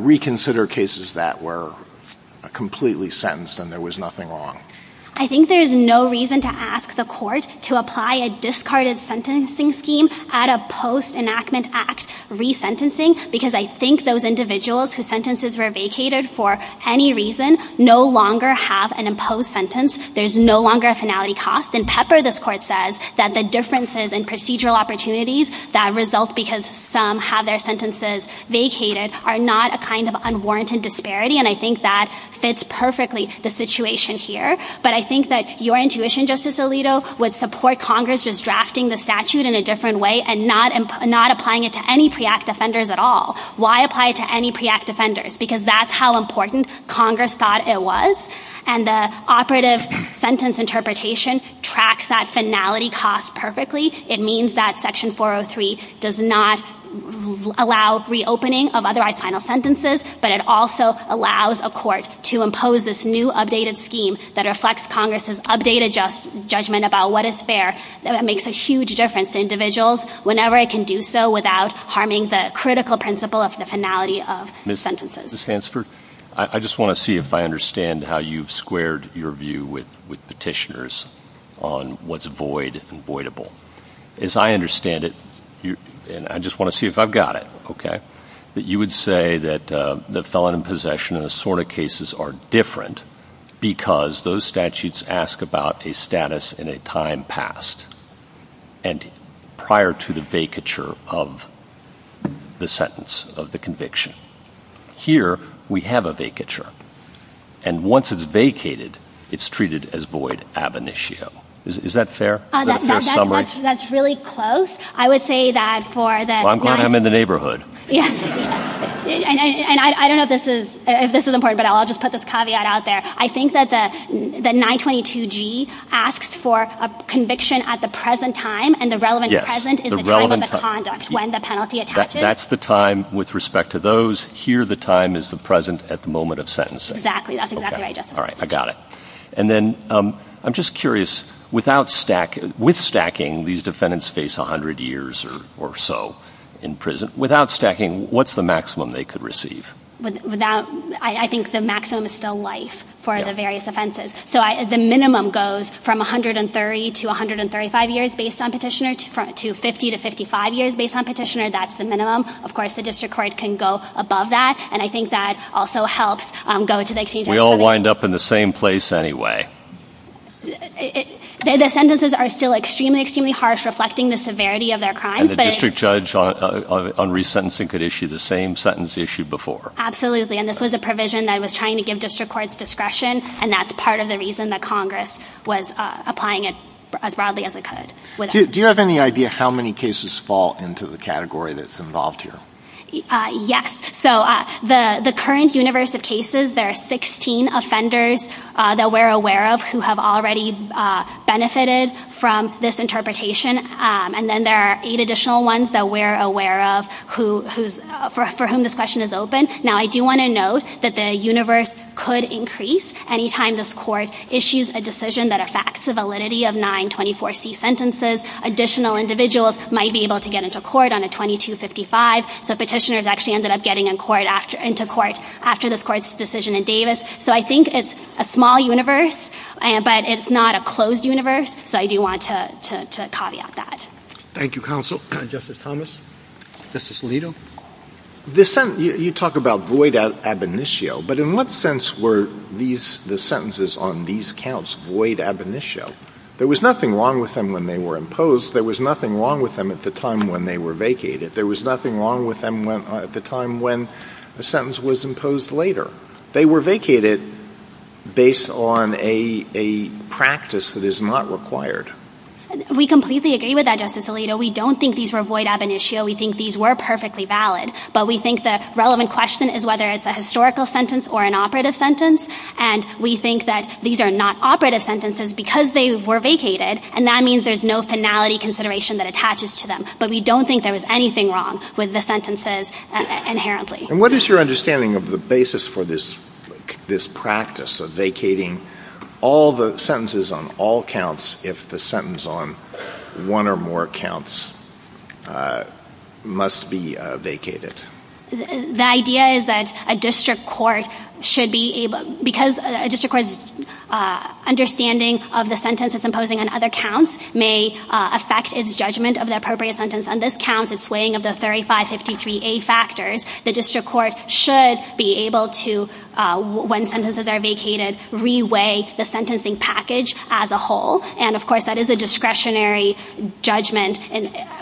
reconsider cases that were completely sentenced and there was nothing wrong. I think there's no reason to ask the court to apply a discarded sentencing scheme at a post-enactment act resentencing because I think those individuals whose sentences were vacated for any reason no longer have an imposed sentence. There's no longer a finality cost. And Pepper, this court says, that the differences in procedural opportunities that result because some have their sentences vacated are not a kind of unwarranted disparity, and I think that fits perfectly the situation here. But I think that your intuition, Justice Alito, would support Congress just drafting the statute in a different way and not applying it to any pre-act offenders at all. Why apply it to any pre-act offenders? Because that's how important Congress thought it was. And the operative sentence interpretation tracks that finality cost perfectly. It means that Section 403 does not allow reopening of otherwise final sentences, but it also allows a court to impose this new updated scheme that reflects Congress's updated judgment about what is fair. That makes a huge difference to individuals whenever it can do so without harming the critical principle of the finality of sentences. I just want to see if I understand how you've squared your view with petitioners on what's void and voidable. As I understand it, and I just want to see if I've got it, okay, that you would say that the felon in possession and assorted cases are different because those statutes ask about a status and a time past, and prior to the vacature of the sentence, of the conviction. Here, we have a vacature. And once it's vacated, it's treated as void ab initio. Is that fair? Is that a fair summary? That's really close. I would say that for the— Well, I'm in the neighborhood. Yes. And I don't know if this is important, but I'll just put this caveat out there. I think that the 922G asks for a conviction at the present time, and the relevant present is the time of the conduct, when the penalty attaches. That's the time with respect to those. Here, the time is the present at the moment of sentencing. That's exactly right. All right. I got it. And then I'm just curious, with stacking, these defendants face 100 years or so in prison. Without stacking, what's the maximum they could receive? I think the maximum is still life for the various offenses. So the minimum goes from 130 to 135 years based on petitioner to 50 to 55 years based on petitioner. That's the minimum. Of course, the district court can go above that. And I think that also helps go to the exchange— We all wind up in the same place anyway. The sentences are still extremely, extremely harsh, reflecting the severity of their crimes. And the district judge on resentencing could issue the same sentence issued before. Absolutely. And this was a provision that was trying to give district courts discretion, and that's part of the reason that Congress was applying it as broadly as it could. Do you have any idea how many cases fall into the category that's involved here? Yes. So the current universe of cases, there are 16 offenders that we're aware of who have already benefited from this interpretation. And then there are eight additional ones that we're aware of for whom this question is open. Now, I do want to note that the universe could increase anytime this court issues a decision that affects the validity of 924C sentences. Additional individuals might be able to get into court on a 2255. The petitioners actually ended up getting into court after this court's decision in So I think it's a small universe, but it's not a closed universe. So I do want to caveat that. Thank you, counsel. Justice Thomas? Justice Alito? You talk about void ab initio. But in what sense were the sentences on these counts void ab initio? There was nothing wrong with them when they were imposed. There was nothing wrong with them at the time when they were vacated. There was nothing wrong with them at the time when the sentence was imposed later. They were vacated based on a practice that is not required. We completely agree with that, Justice Alito. We don't think these were void ab initio. We think these were perfectly valid. But we think the relevant question is whether it's a historical sentence or an operative sentence. And we think that these are not operative sentences because they were vacated. And that means there's no finality consideration that attaches to them. But we don't think there was anything wrong with the sentences inherently. And what is your understanding of the basis for this practice of vacating all the sentences on all counts if the sentence on one or more counts must be vacated? The idea is that a district court should be able – because a district court's understanding of the sentence it's imposing on other counts may affect its judgment of the appropriate sentence. On this count, it's swaying of the 3553A factors. The district court should be able to, when sentences are vacated, reweigh the sentencing package as a whole. And, of course, that is a discretionary judgment.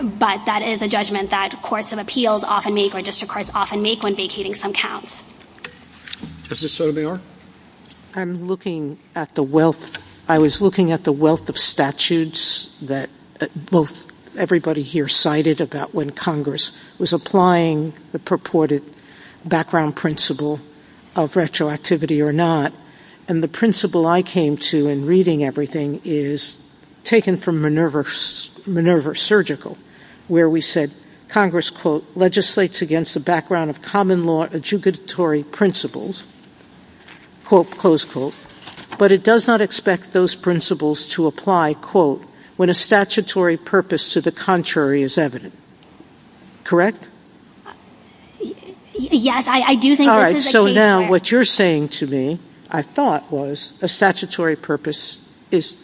But that is a judgment that courts of appeals often make or district courts often make when vacating some counts. Justice Sotomayor? I'm looking at the wealth. I was looking at the wealth of statutes that everybody here cited about when Congress was applying the purported background principle of retroactivity or not. And the principle I came to in reading everything is taken from Minerva Surgical, where we said Congress, quote, legislates against the background of common law adjugatory principles, quote, close quote, but it does not expect those principles to apply, quote, when a statutory purpose to the contrary is evident. Correct? Yes, I do think... All right. So now what you're saying to me, I thought was a statutory purpose is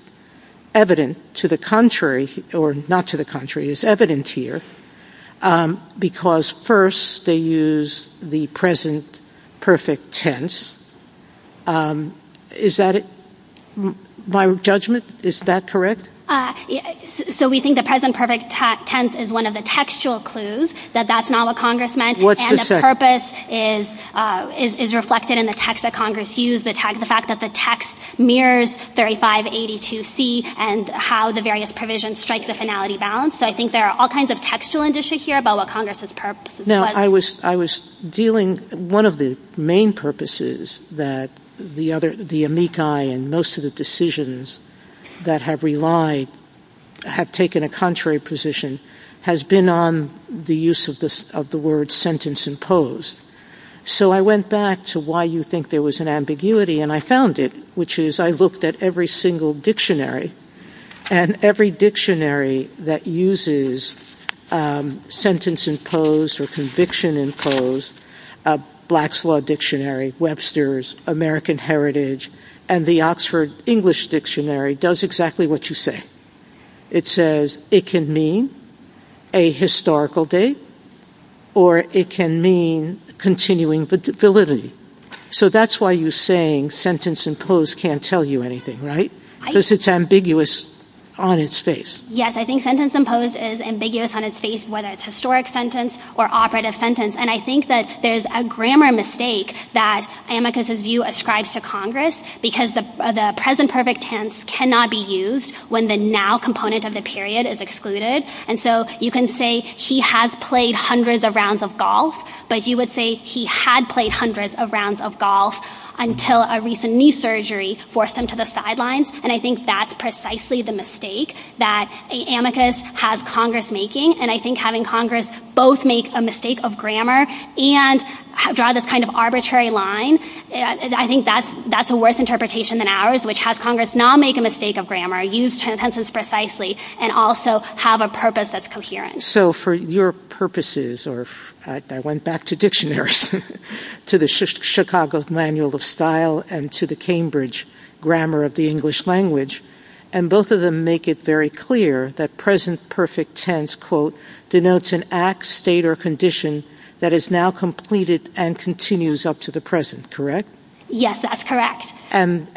evident to the contrary, or not to the contrary, is evident here because first they use the present perfect tense. Is that my judgment? Is that correct? Uh, so we think the present perfect tense is one of the textual clues that that's not what Congress meant and the purpose is reflected in the text that Congress used, the fact that the text mirrors 3582C and how the various provisions strike the finality balance. So I think there are all kinds of textual indices here about what Congress's purpose was. Now, I was dealing... One of the main purposes that the other, the amici and most of the decisions that have relied, have taken a contrary position has been on the use of the word sentence imposed. So I went back to why you think there was an ambiguity and I found it, which is I looked at every single dictionary and every dictionary that uses um, sentence imposed or conviction imposed, uh, Black's Law Dictionary, Webster's, American Heritage, and the Oxford English Dictionary does exactly what you say. It says it can mean a historical date or it can mean continuing validity. So that's why you're saying sentence imposed can't tell you anything, right? Because it's ambiguous on its face. Yes, I think sentence imposed is ambiguous on its face, whether it's historic sentence or operative sentence. And I think that there's a grammar mistake that Amicus's view ascribes to Congress because the present perfect tense cannot be used when the now component of the period is excluded. And so you can say he has played hundreds of rounds of golf, but you would say he had played hundreds of rounds of golf until a recent knee surgery forced him to the sidelines. And I think that's precisely the mistake that Amicus has Congress making. And I think having Congress both make a mistake of grammar and draw this kind of arbitrary line, I think that's a worse interpretation than ours, which has Congress not make a mistake of grammar, use tenses precisely, and also have a purpose that's coherent. So for your purposes, or I went back to dictionaries, to the Chicago Manual of Style and to the Cambridge Grammar of the English Language, and both of them make it very clear that present perfect tense, quote, denotes an act, state or condition that is now completed and continues up to the present. Correct? Yes, that's correct. And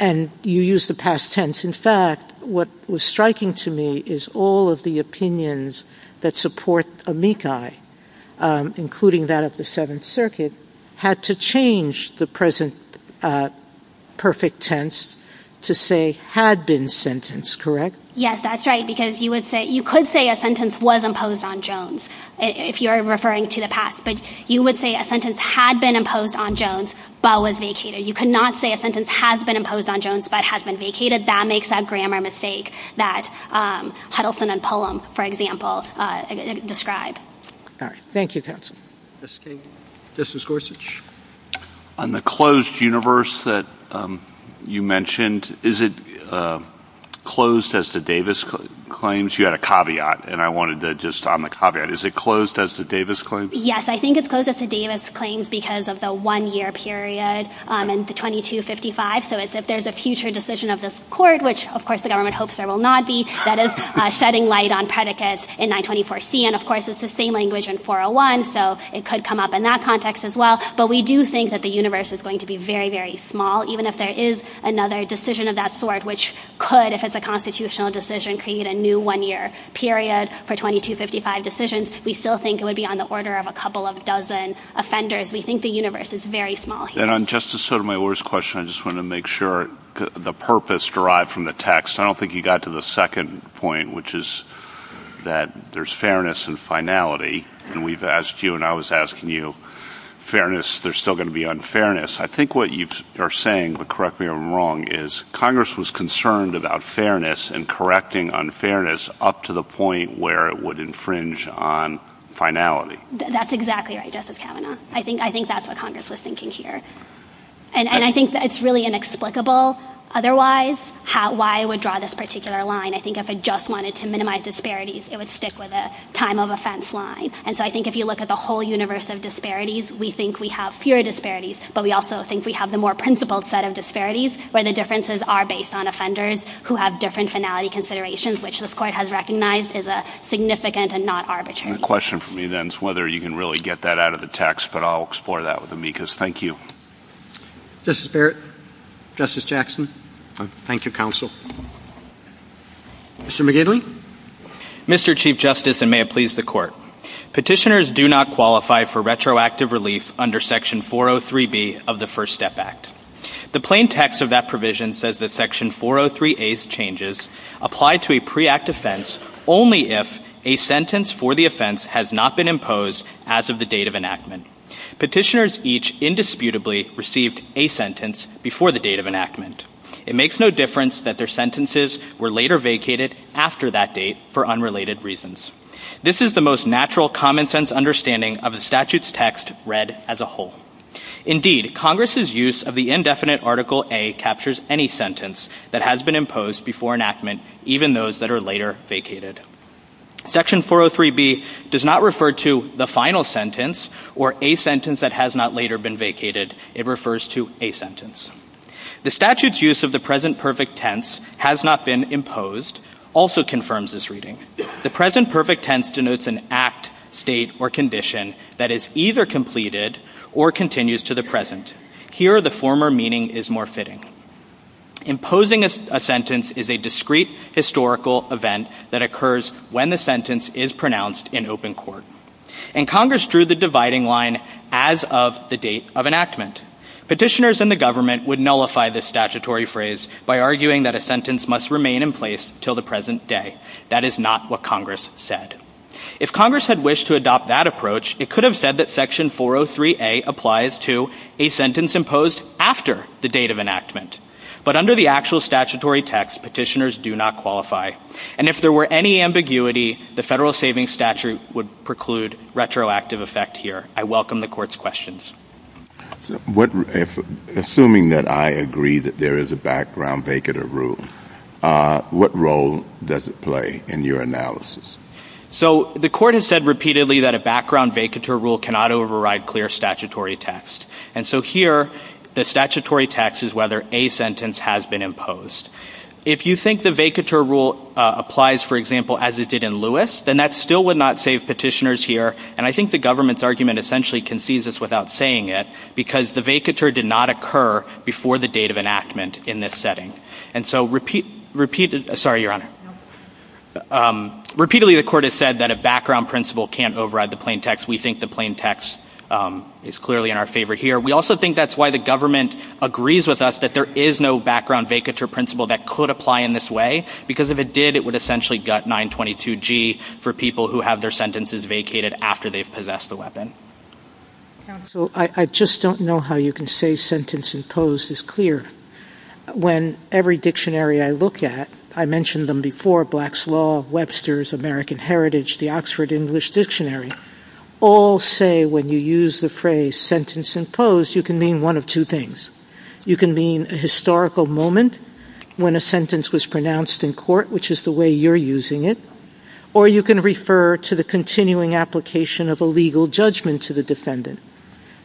you use the past tense. In fact, what was striking to me is all of the opinions that support Amici, including that of the Seventh Circuit, had to change the present perfect tense to say had been sentenced, correct? Yes, that's right. Because you could say a sentence was imposed on Jones, if you're referring to the past. But you would say a sentence had been imposed on Jones, but was vacated. You could not say a sentence has been imposed on Jones, but has been vacated. That makes that grammar mistake that Huddleston and Pullum, for example, describe. All right. Thank you, counsel. Justice Gorsuch. On the closed universe that you mentioned, is it closed as the Davis claims? You had a caveat, and I wanted to just on the caveat. Is it closed as the Davis claims? Yes, I think it's closed as the Davis claims because of the one-year period in 2255. So it's if there's a future decision of this court, which of course the government hopes there will not be, that is shedding light on predicates in 924C. And of course, it's the same language in 401. So it could come up in that context as well. But we do think that the universe is going to be very, very small. Even if there is another decision of that sort, which could, if it's a constitutional decision, create a new one-year period for 2255 decisions, we still think it would be on the order of a couple of dozen offenders. We think the universe is very small. And on Justice Sotomayor's question, I just want to make sure the purpose derived from the text, I don't think you got to the second point, which is that there's fairness and finality. And we've asked you, and I was asking you, fairness, there's still going to be unfairness. I think what you are saying, but correct me if I'm wrong, is Congress was concerned about fairness and correcting unfairness up to the point where it would infringe on finality. That's exactly right, Justice Kavanaugh. I think that's what Congress was thinking here. And I think that it's really inexplicable. Otherwise, why I would draw this particular line, I think if it just wanted to minimize disparities, it would stick with a time of offense line. And so I think if you look at the whole universe of disparities, we think we have pure disparities, but we also think we have the more principled set of disparities where the differences are based on offenders who have different finality considerations, which this Court has recognized is significant and not arbitrary. The question for me then is whether you can really get that out of the text, but I'll explore that with Amicus. Thank you. Justice Barrett. Justice Jackson. Thank you, counsel. Mr. McGinley. Mr. Chief Justice, and may it please the Court. Petitioners do not qualify for retroactive relief under section 403B of the First Step Act. The plain text of that provision says that section 403A's changes apply to a pre-act offense only if a sentence for the offense has not been imposed as of the date of enactment. Petitioners each indisputably received a sentence before the date of enactment. It makes no difference that their sentences were later vacated after that date for unrelated reasons. This is the most natural, common-sense understanding of the statute's text read as a whole. Indeed, Congress's use of the indefinite Article A captures any sentence that has been imposed before enactment, even those that are later vacated. Section 403B does not refer to the final sentence or a sentence that has not later been vacated. It refers to a sentence. The statute's use of the present perfect tense, has not been imposed, also confirms this reading. The present perfect tense denotes an act, state, or condition that is either completed or continues to the present. Here, the former meaning is more fitting. Imposing a sentence is a discrete historical event that occurs when the sentence is pronounced in open court. And Congress drew the dividing line as of the date of enactment. Petitioners and the government would nullify this statutory phrase by arguing that a sentence must remain in place till the present day. That is not what Congress said. If Congress had wished to adopt that approach, it could have said that Section 403A applies to a sentence imposed after the date of enactment. But under the actual statutory text, petitioners do not qualify. And if there were any ambiguity, the Federal Savings Statute would preclude retroactive effect here. I welcome the Court's questions. So, assuming that I agree that there is a background vacatur rule, what role does it play in your analysis? So, the Court has said repeatedly that a background vacatur rule cannot override clear statutory text. And so here, the statutory text is whether a sentence has been imposed. If you think the vacatur rule applies, for example, as it did in Lewis, then that still would not save petitioners here. And I think the government's argument essentially concedes this without saying it because the vacatur did not occur before the date of enactment in this setting. And so, repeatedly... Sorry, Your Honor. Repeatedly, the Court has said that a background principle can't override the plain text. We think the plain text is clearly in our favor here. We also think that's why the government agrees with us that there is no background vacatur principle that could apply in this way because if it did, it would essentially gut 922G for people who have their sentences vacated after they've possessed the weapon. So, I just don't know how you can say sentence imposed is clear. When every dictionary I look at, I mentioned them before, Black's Law, Webster's, American Heritage, the Oxford English Dictionary, all say when you use the phrase sentence imposed, you can mean one of two things. You can mean a historical moment when a sentence was pronounced in court, which is the way you're using it. Or you can refer to the continuing application of a legal judgment to the defendant.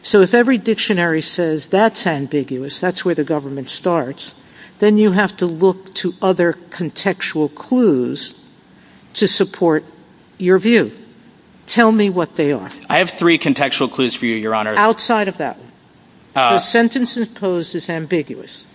So, if every dictionary says that's ambiguous, that's where the government starts, then you have to look to other contextual clues to support your view. Tell me what they are. I have three contextual clues for you, Your Honor. Outside of that, sentence imposed is ambiguous.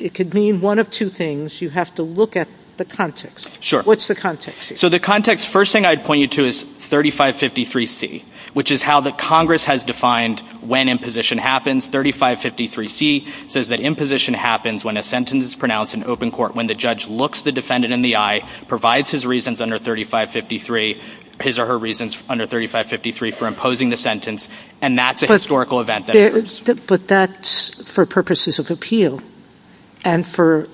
It could mean one of two things. You have to look at the context. What's the context? So, the context, first thing I'd point you to is 3553C, which is how the Congress has defined when imposition happens. 3553C says that imposition happens when a sentence is pronounced in open court, when the judge looks the defendant in the eye, provides his reasons under 3553, his or her reasons under 3553 for imposing the sentence, and that's a historical event. But that's for purposes of appeal and for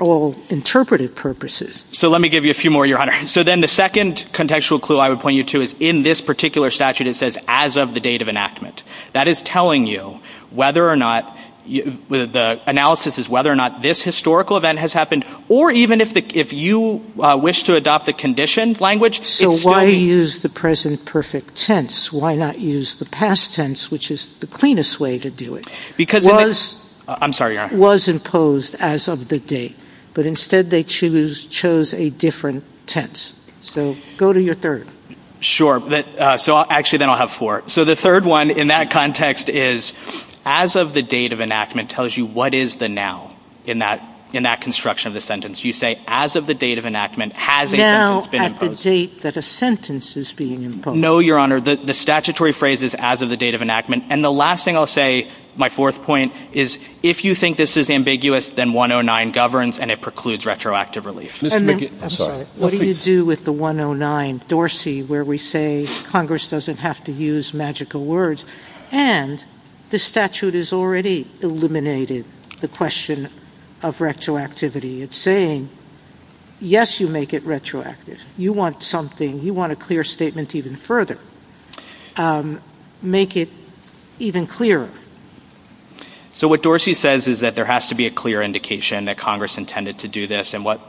all interpretive purposes. So, let me give you a few more, Your Honor. So, then the second contextual clue I would point you to is in this particular statute, it says as of the date of enactment. That is telling you whether or not the analysis is whether or not this historical event has happened or even if you wish to adopt the conditioned language. So, why use the present perfect tense? Why not use the past tense, which is the cleanest way to do it? I'm sorry, Your Honor. Was imposed as of the date, but instead they chose a different tense. So, go to your third. Sure. So, actually, then I'll have four. So, the third one in that context is as of the date of enactment tells you what is the now in that construction of the sentence. You say as of the date of enactment has been imposed. Now at the date that a sentence is being imposed. No, Your Honor, the statutory phrase is as of the date of enactment. And the last thing I'll say, my fourth point is if you think this is ambiguous, then 109 governs and it precludes retroactive relief. What do you do with the 109 Dorsey where we say Congress doesn't have to use magical words and the statute is already eliminated the question of retroactivity. It's saying, yes, you make it retroactive. You want something. You want a clear statement even further. Make it even clearer. So, what Dorsey says is that there has to be a clear indication that Congress intended to do this and what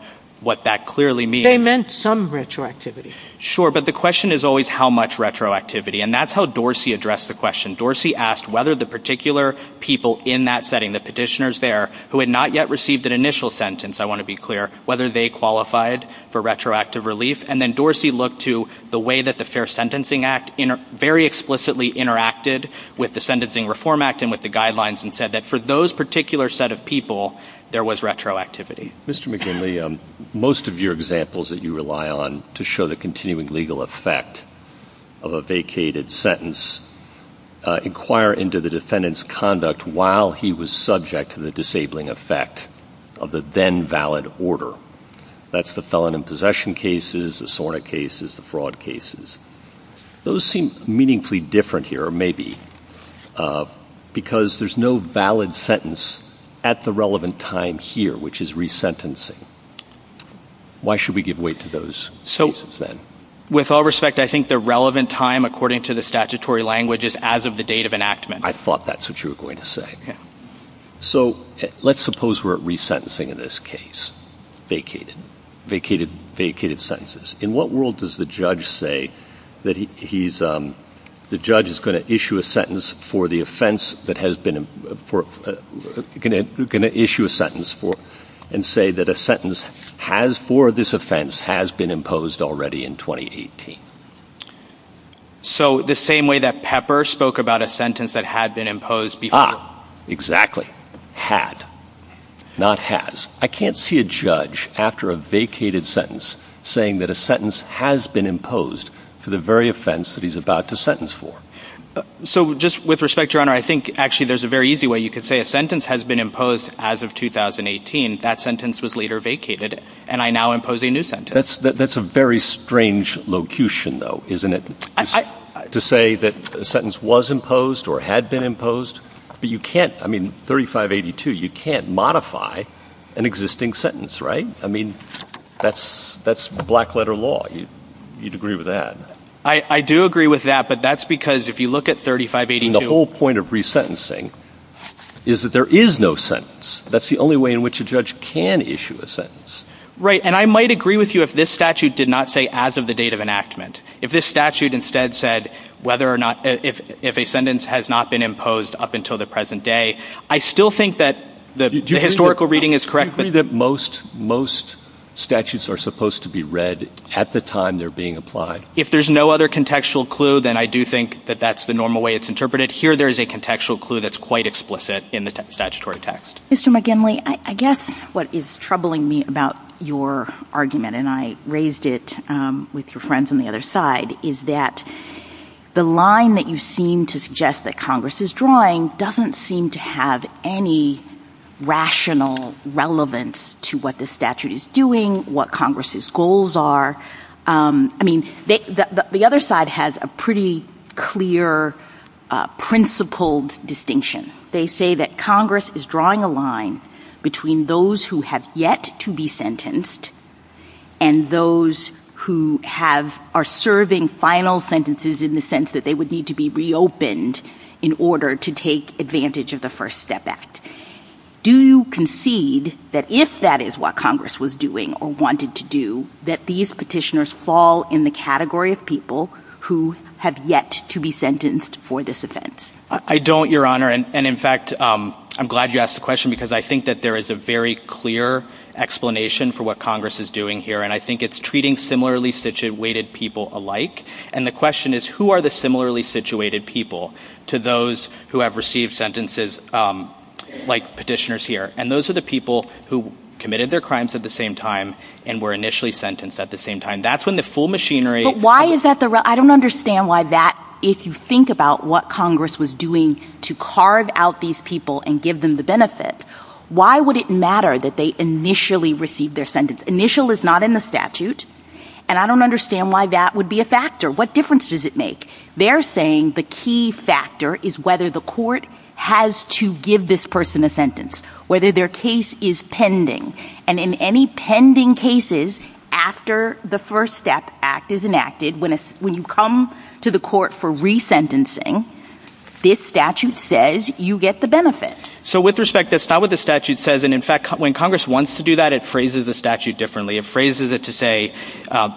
that clearly means. They meant some retroactivity. Sure, but the question is always how much retroactivity. And that's how Dorsey addressed the question. Dorsey asked whether the particular people in that setting, the petitioners there, who had not yet received an initial sentence, I want to be clear, whether they qualified for retroactive relief. And then Dorsey looked to the way that the Fair Sentencing Act very explicitly interacted with the Sentencing Reform Act and with the guidelines and said that for those particular set of people, there was retroactivity. Mr. McGinley, most of your examples that you rely on to show the continuing legal effect of a vacated sentence inquire into the defendant's conduct while he was subject to the disabling effect of the then valid order. That's the felon in possession cases, the SORNA cases, the fraud cases. Those seem meaningfully different here, or maybe, because there's no valid sentence at the relevant time here, which is resentencing. Why should we give weight to those cases then? With all respect, I think the relevant time, according to the statutory language, is as of the date of enactment. I thought that's what you were going to say. So let's suppose we're resentencing in this case, vacated sentences. In what world does the judge say that he's, the judge is going to issue a sentence for the offense that has been, going to issue a sentence and say that a sentence has, for this offense, has been imposed already in 2018? So the same way that Pepper spoke about a sentence that had been imposed before. Exactly. Had. Not has. I can't see a judge, after a vacated sentence, saying that a sentence has been imposed for the very offense that he's about to sentence for. So just with respect, Your Honor, I think actually there's a very easy way you could say a sentence has been imposed as of 2018. That sentence was later vacated, and I now impose a new sentence. That's a very strange locution, though, isn't it? To say that a sentence was imposed or had been imposed. But you can't, I mean, 3582, you can't modify an existing sentence, right? I mean, that's, that's black letter law. You'd agree with that. I do agree with that, but that's because if you look at 3582- The whole point of resentencing is that there is no sentence. That's the only way in which a judge can issue a sentence. Right. And I might agree with you if this statute did not say as of the date of enactment. If this statute instead said whether or not, if a sentence has not been imposed up until the present day, I still think that the historical reading is correct. Do you agree that most, most statutes are supposed to be read at the time they're being applied? If there's no other contextual clue, then I do think that that's the normal way it's interpreted. Here, there is a contextual clue that's quite explicit in the statutory text. Mr. McGinley, I guess what is troubling me about your argument, and I raised it with your friends on the other side, is that the line that you seem to suggest that Congress is drawing doesn't seem to have any rational relevance to what the statute is doing, what Congress's goals are. I mean, the other side has a pretty clear principled distinction. They say that Congress is drawing a line between those who have yet to be sentenced and those who have, are serving final sentences in the sense that they would need to be reopened in order to take advantage of the First Step Act. Do you concede that if that is what Congress was doing or wanted to do, that these petitioners fall in the category of people who have yet to be sentenced for this offense? I don't, Your Honor, and in fact, I'm glad you asked the question because I think that there is a very clear explanation for what Congress is doing here, and I think it's treating similarly situated people alike. And the question is, who are the similarly situated people to those who have received sentences like petitioners here? And those are the people who committed their crimes at the same time and were initially sentenced at the same time. That's when the full machinery... But why is that the... I don't understand why that, if you think about what Congress was doing to carve out these people and give them the benefit, why would it matter that they initially received their sentence? Initial is not in the statute, and I don't understand why that would be a factor. What difference does it make? They're saying the key factor is whether the court has to give this person a sentence, whether their case is pending. And in any pending cases, after the First Step Act is enacted, when you come to the court for resentencing, this statute says you get the benefit. So, with respect, that's not what the statute says. And in fact, when Congress wants to do that, it phrases the statute differently. It phrases it to say,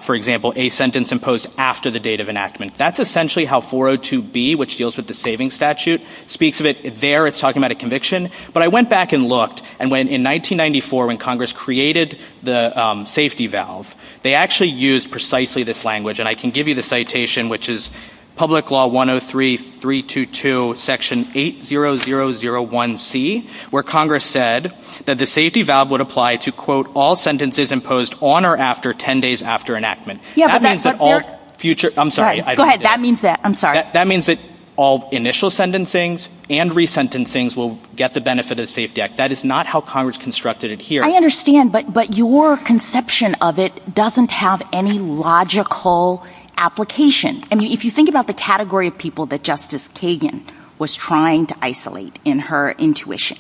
for example, a sentence imposed after the date of enactment. That's essentially how 402B, which deals with the saving statute, speaks of it there. It's talking about a conviction. But I went back and looked, and in 1994, when Congress created the safety valve, they actually used precisely this language. And I can give you the citation, which is Public Law 103-322, Section 8001C, where Congress said that the safety valve would apply to, quote, all sentences imposed on or after 10 days after enactment. That means that all future... I'm sorry. Go ahead. That means that... I'm sorry. That means that all initial sentencings and resentencings will get the benefit of the Safety Act. That is not how Congress constructed it here. I understand, but your conception of it doesn't have any logical application. I mean, think about the category of people that Justice Kagan was trying to isolate in her intuition,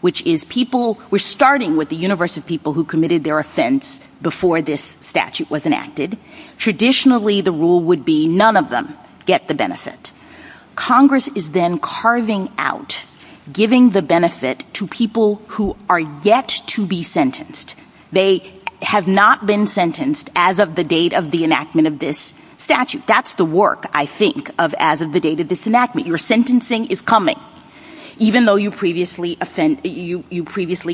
which is people... We're starting with the universe of people who committed their offense before this statute was enacted. Traditionally, the rule would be none of them get the benefit. Congress is then carving out, giving the benefit to people who are yet to be sentenced. They have not been sentenced as of the date of the enactment of this statute. That's the work, I think, of as of the date of this enactment. Your sentencing is coming, even though you previously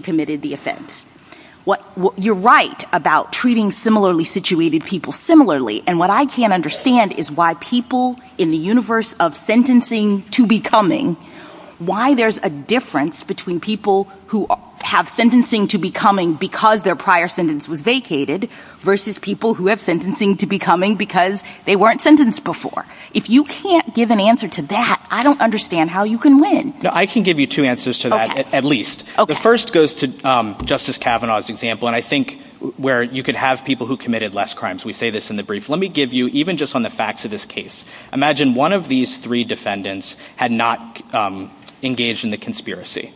committed the offense. You're right about treating similarly situated people similarly. And what I can't understand is why people in the universe of sentencing to becoming, why there's a difference between people who have sentencing to becoming because their prior sentence was vacated versus people who have sentencing to becoming because they weren't sentenced before. If you can't give an answer to that, I don't understand how you can win. No, I can give you two answers to that, at least. The first goes to Justice Kavanaugh's example, and I think where you could have people who committed less crimes. We say this in the brief. Let me give you, even just on the facts of this case, imagine one of these three defendants had engaged in the conspiracy.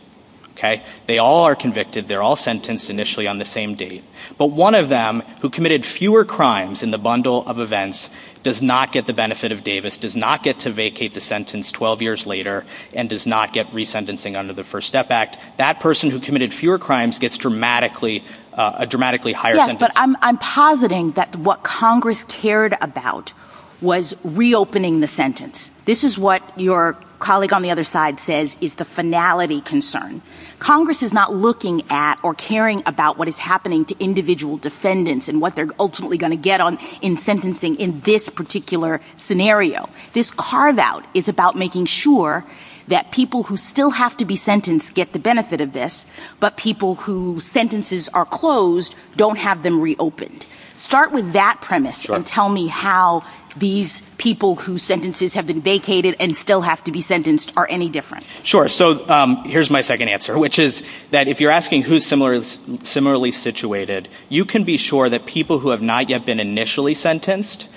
They all are convicted. They're all sentenced initially on the same date. But one of them who committed fewer crimes in the bundle of events does not get the benefit of Davis, does not get to vacate the sentence 12 years later, and does not get resentencing under the First Step Act. That person who committed fewer crimes gets a dramatically higher sentence. Yes, but I'm positing that what Congress cared about was reopening the sentence. This is what your colleague on the other side says is the finality concern. Congress is not looking at or caring about what is happening to individual defendants and what they're ultimately going to get on in sentencing in this particular scenario. This carve-out is about making sure that people who still have to be sentenced get the benefit of this, but people whose sentences are closed don't have them reopened. Start with that premise and tell me how these people whose sentences have vacated and still have to be sentenced are any different. Sure. So here's my second answer, which is that if you're asking who's similarly situated, you can be sure that people who have not yet been initially sentenced,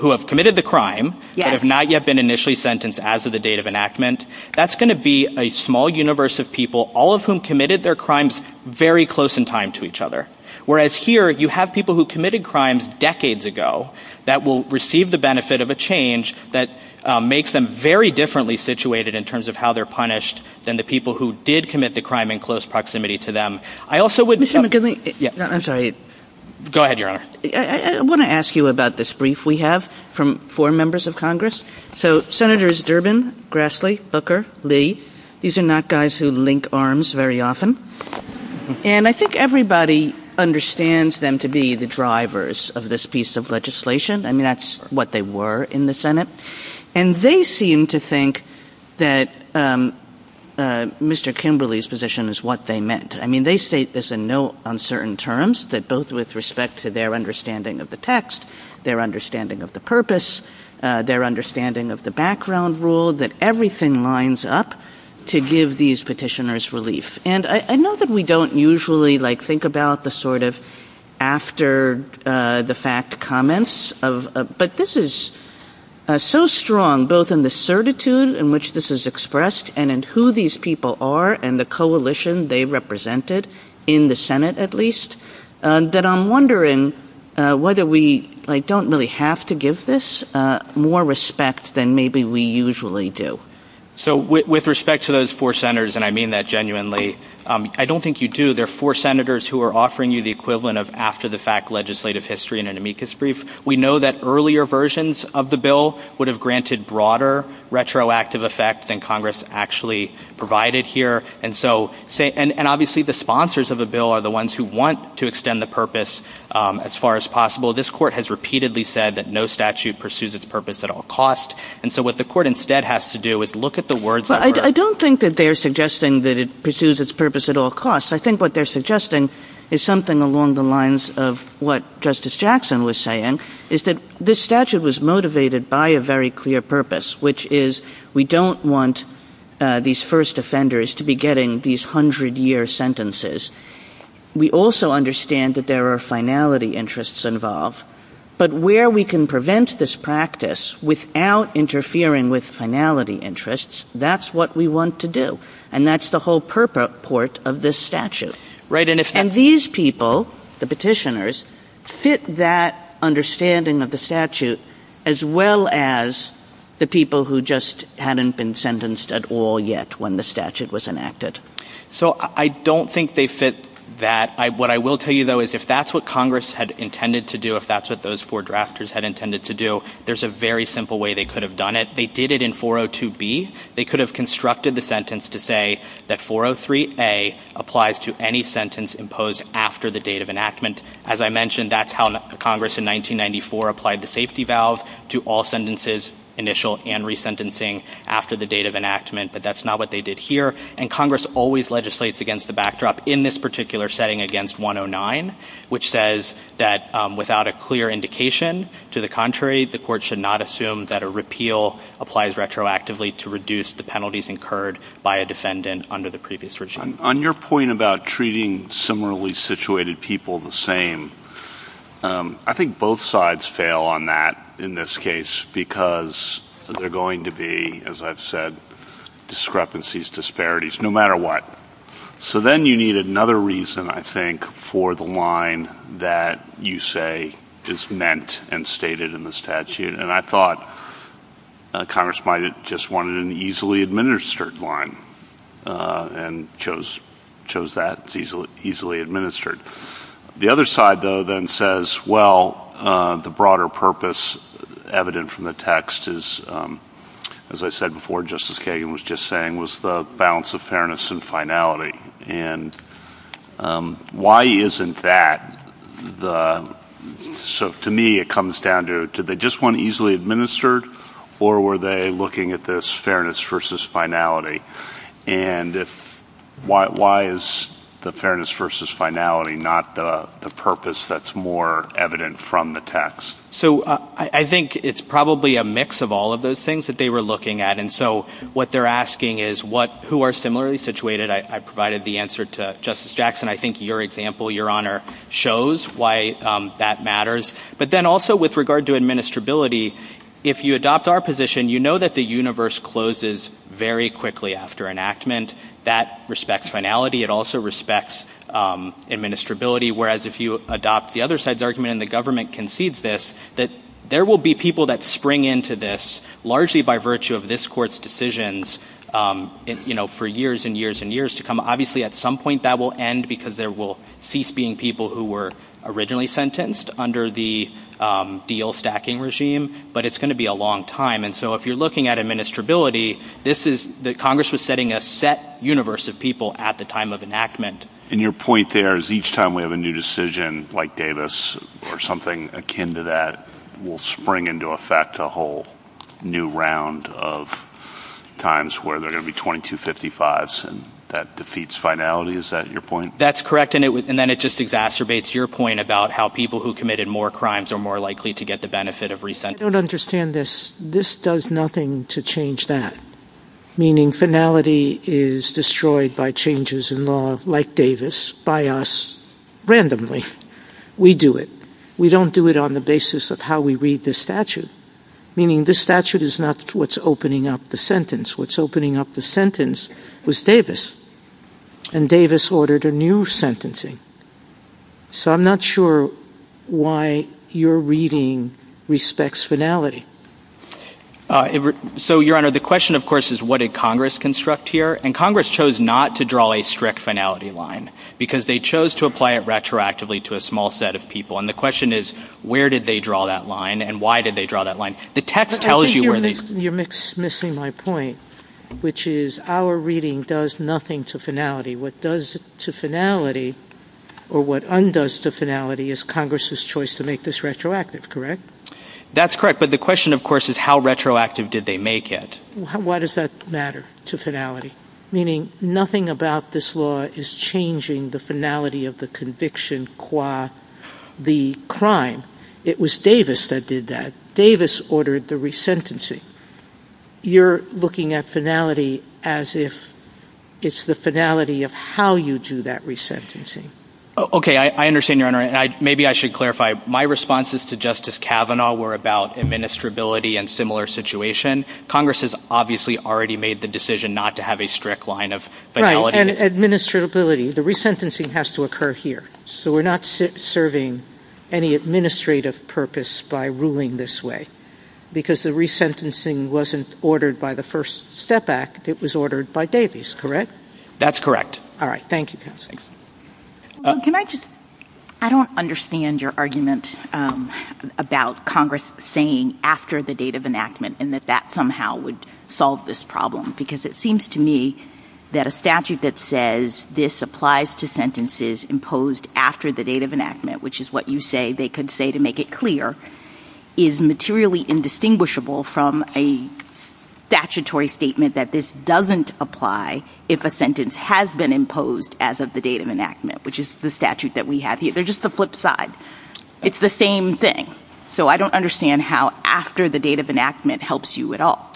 who have committed the crime, but have not yet been initially sentenced as of the date of enactment, that's going to be a small universe of people, all of whom committed their crimes very close in time to each other. Whereas here, you have people who committed crimes decades ago that will receive the benefit of a change that makes them very differently situated in terms of how they're punished than the people who did commit the crime in close proximity to them. I also would... I'm sorry. Go ahead, Your Honor. I want to ask you about this brief we have from four members of Congress. So Senators Durbin, Grassley, Booker, Lee, these are not guys who link arms very often. And I think everybody understands them to be the drivers of this piece of legislation. And that's what they were in the Senate. And they seem to think that Mr. Kimberley's position is what they meant. I mean, they state this in no uncertain terms that both with respect to their understanding of the text, their understanding of the purpose, their understanding of the background rule, that everything lines up to give these petitioners relief. And I know that we don't usually like think about the sort of after the fact comments of, but this is so strong, both in the certitude in which this is expressed and in who these people are and the coalition they represented in the Senate, at least, that I'm wondering whether we like don't really have to give this more respect than maybe we usually do. So with respect to those four senators, and I mean that genuinely, I don't think you do. There are four senators who are offering you the equivalent of after the fact legislative history in an amicus brief. We know that earlier versions of the bill would have granted broader retroactive effect than Congress actually provided here. And so, and obviously the sponsors of the bill are the ones who want to extend the purpose as far as possible. This court has repeatedly said that no pursues its purpose at all costs. And so what the court instead has to do is look at the words. But I don't think that they're suggesting that it pursues its purpose at all costs. I think what they're suggesting is something along the lines of what Justice Jackson was saying is that this statute was motivated by a very clear purpose, which is we don't want these first offenders to be getting these hundred year sentences. We also understand that there are finality interests involved, but where we can prevent this practice without interfering with finality interests, that's what we want to do. And that's the whole purport of this statute. And these people, the petitioners, fit that understanding of the statute as well as the people who just hadn't been sentenced at all yet when the statute was enacted. So I don't think they fit that. What I will tell you though, is if that's what Congress had intended to do, if that's what those four drafters had intended to do, there's a very simple way they could have done it. They did it in 402B. They could have constructed the sentence to say that 403A applies to any sentence imposed after the date of enactment. As I mentioned, that's how Congress in 1994 applied the safety valve to all sentences, initial and resentencing, after the date of enactment. But that's not what they did here. And Congress always legislates against the backdrop in this particular setting against 109, which says that without a clear indication, to the contrary, the court should not assume that a repeal applies retroactively to reduce the penalties incurred by a defendant under the previous regime. On your point about treating similarly situated people the same, I think both sides fail on that in this case, because they're going to be, as I've said, discrepancies, disparities, no matter what. So then you need another reason, I think, for the line that you say is meant and stated in the statute. And I thought Congress might have just wanted an easily administered line and chose that, easily administered. The other side though then says, well, the broader purpose evident from the text is, as I said before, Justice Kagan was just saying, was the balance of fairness and finality. And why isn't that? So to me, it comes down to, did they just want easily administered, or were they looking at this fairness versus finality? And why is the fairness versus finality not the purpose that's more evident from the text? So I think it's probably a mix of all of those things that they were looking at. And so what they're asking is, who are similarly situated? I provided the answer to Justice Jackson. I think your example, Your Honor, shows why that matters. But then also, with regard to administrability, if you adopt our position, you know that the universe closes very quickly after enactment. That respects finality. It also respects administrability. Whereas if you adopt the other side's argument and the government concedes this, that there will be people that spring into this largely by virtue of this court's decisions for years and years and years to come. Obviously, at some point that will end because there will cease being people who were originally sentenced under the deal stacking regime, but it's going to be a long time. And so if you're looking at administrability, this is the Congress was setting a set universe of people at the time of enactment. And your point there is each time we have a new decision, like Davis or something akin to that, will spring into effect a whole new round of times where they're going to be 2255s and that defeats finality. Is that your point? That's correct. And then it just exacerbates your point about how people who committed more crimes are more likely to get the benefit of resentment. I don't understand this. This does nothing to change that. Meaning finality is destroyed by changes in law like Davis by us randomly. We do it. We don't do it on the basis of how we read this statute, meaning this statute is not what's opening up the sentence. What's opening up the sentence was Davis and Davis ordered a new sentencing. So I'm not sure why you're reading respects finality. Uh, so your honor, the question of course, is what did Congress construct here? And Congress chose not to draw a strict finality line because they chose to apply it retroactively to a small set of people. And the question is, where did they draw that line and why did they draw that line? The text tells you where you're missing my point, which is our reading does nothing to finality. What does to finality or what undoes to finality is Congress's choice to make this retroactive, correct? That's correct. But the question of course, is how retroactive did they make it? Why does that matter to finality? Meaning nothing about this law is changing the finality of the conviction qua the crime. It was Davis that did that. Davis ordered the resentencing. You're looking at finality as if it's the finality of how you do that resentencing. Okay. I understand your honor. And I, maybe I should clarify my responses to justice Cavanaugh were about administrability and similar situation. Congress has obviously already made the decision not to have a strict line of finality. Administrability, the resentencing has to occur here. So we're not serving any administrative purpose by ruling this way because the resentencing wasn't ordered by the first step back. It was ordered by Davis, correct? That's correct. All right. Thank you. Can I just, I don't understand your argument about Congress saying after the date of enactment and that that somehow would solve this problem, because it seems to me that a statute that says this applies to sentences imposed after the date of enactment, which is what you say, they could say to make it clear is materially indistinguishable from a statutory statement that this doesn't apply if a sentence has been imposed as of the date of enactment, which is the statute that we have here. They're just the flip side. It's the same thing. So I don't understand how after the date of enactment helps you at all.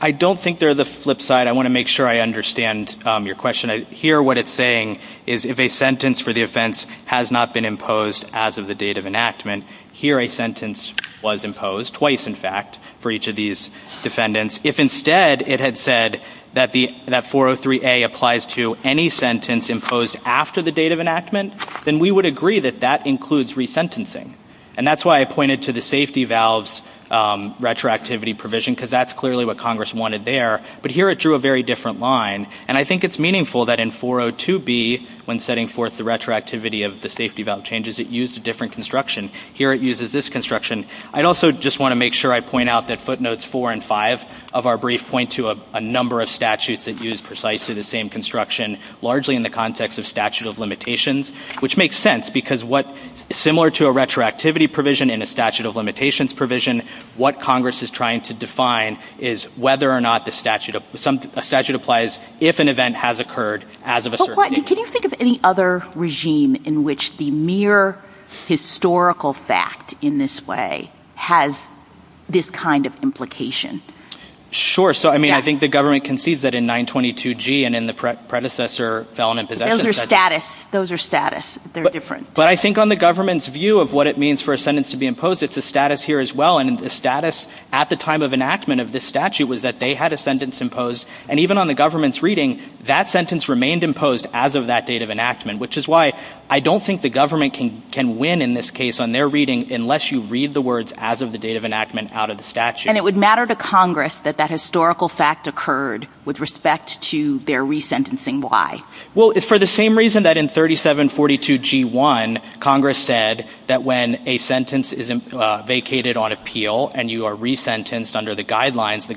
I don't think they're the flip side. I want to make sure I understand your question here. What it's saying is if a sentence for the offense has not been imposed as of the date of enactment here, a sentence was imposed twice, in fact, for each of these defendants. If instead it had said that 403A applies to any sentence imposed after the date of enactment, then we would agree that that includes resentencing. And that's why I pointed to the safety valves retroactivity provision, because that's clearly what Congress wanted there. But here it drew a very different line. And I think it's meaningful that in 402B, when setting forth the retroactivity of the safety valve changes, it used a different construction. Here it uses this construction. I'd also just want to make sure I point out that footnotes four and five of our brief point to a number of statutes that use precisely the same construction, largely in the context of statute of limitations, which makes sense because what similar to a retroactivity provision in a statute of limitations provision, what Congress is trying to define is whether or not the statute applies if an event has occurred as of a certain date. Can you think of any other regime in which the mere historical fact in this way has this kind of implication? Sure. So, I mean, I think the government concedes that in 922G and in the predecessor felon imposition statute. Those are status. They're different. But I think on the government's view of what it means for a sentence to be imposed, it's a status here as well. And the status at the time of enactment of this statute was that they had a sentence imposed. And even on the government's reading, that sentence remained imposed as of that date of enactment, which is why I don't think the government can win in this case on their reading unless you read the words as of the date of enactment out of the statute. And it would matter to Congress that that historical fact occurred with respect to their resentencing. Why? Well, it's for the same reason that in 3742G1, Congress said that when a sentence is vacated on appeal and you are resentenced under the guidelines, the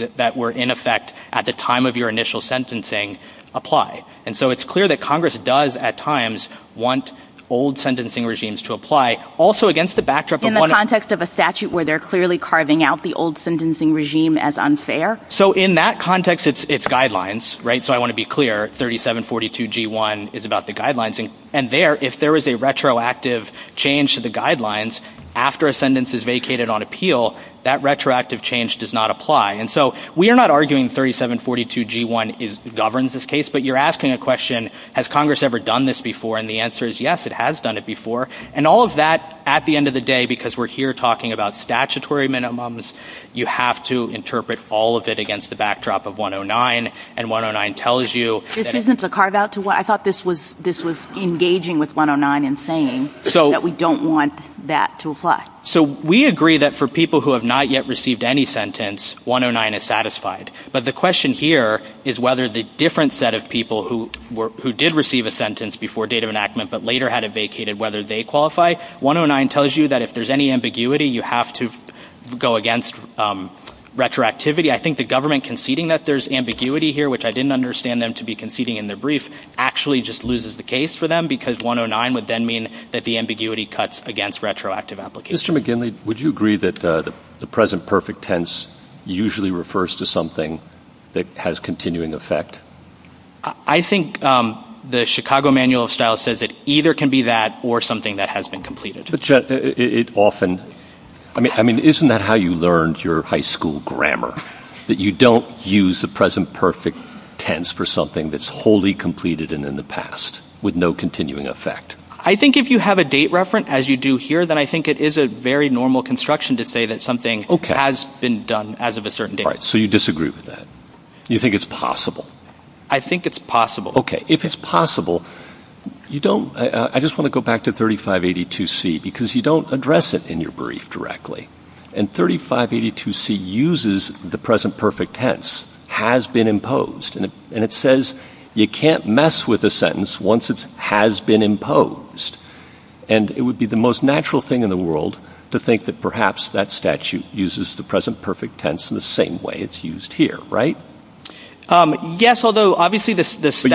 guidelines that were in effect at the time of your initial sentencing apply. And so it's clear that Congress does at times want old sentencing regimes to apply also against the backdrop. In the context of a statute where they're clearly carving out the old sentencing regime as unfair? So in that context, it's guidelines, right? So I want to be clear. 3742G1 is about the guidelines. And there, if there is a retroactive change to the guidelines after a sentence is vacated on appeal, that retroactive change does not apply. And so we are not arguing 3742G1 governs this case, but you're asking a question, has Congress ever done this before? And the answer is yes, it has done it before. And all of that at the end of the day, because we're here talking about statutory minimums, you have to interpret all of it against the backdrop of 109. And 109 tells you... This isn't to carve out to what? I thought this was engaging with 109 in saying that we don't want that to apply. So we agree that for people who have not yet received any sentence, 109 is satisfied. But the question here is whether the different set of people who did receive a sentence before date of enactment, but later had it vacated, whether they qualify, 109 tells you that if there's any ambiguity, you have to go against retroactivity. I think the government conceding that there's ambiguity here, which I didn't understand them to be conceding in the brief, actually just loses the case for them because 109 would then mean that the ambiguity cuts against retroactive applications. Mr. McGinley, would you agree that the present perfect tense usually refers to something that has continuing effect? I think the Chicago Manual of Style says that either can be that or something that has been completed. But it often... I mean, isn't that how you learned your high school grammar, that you don't use the present perfect tense for something that's wholly completed and in the past with no continuing effect? I think if you have a date reference, as you do here, then I think it is a very normal construction to say that something has been done as of a certain date. So you disagree with that. You think it's possible? I think it's possible. Okay. If it's possible, you don't... I just want to go back to 3582C because you don't address it in your brief directly. And 3582C uses the present perfect tense, has been imposed. And it says you can't address with a sentence once it has been imposed. And it would be the most natural thing in the world to think that perhaps that statute uses the present perfect tense in the same way it's used here, right? Yes, although obviously the statutory...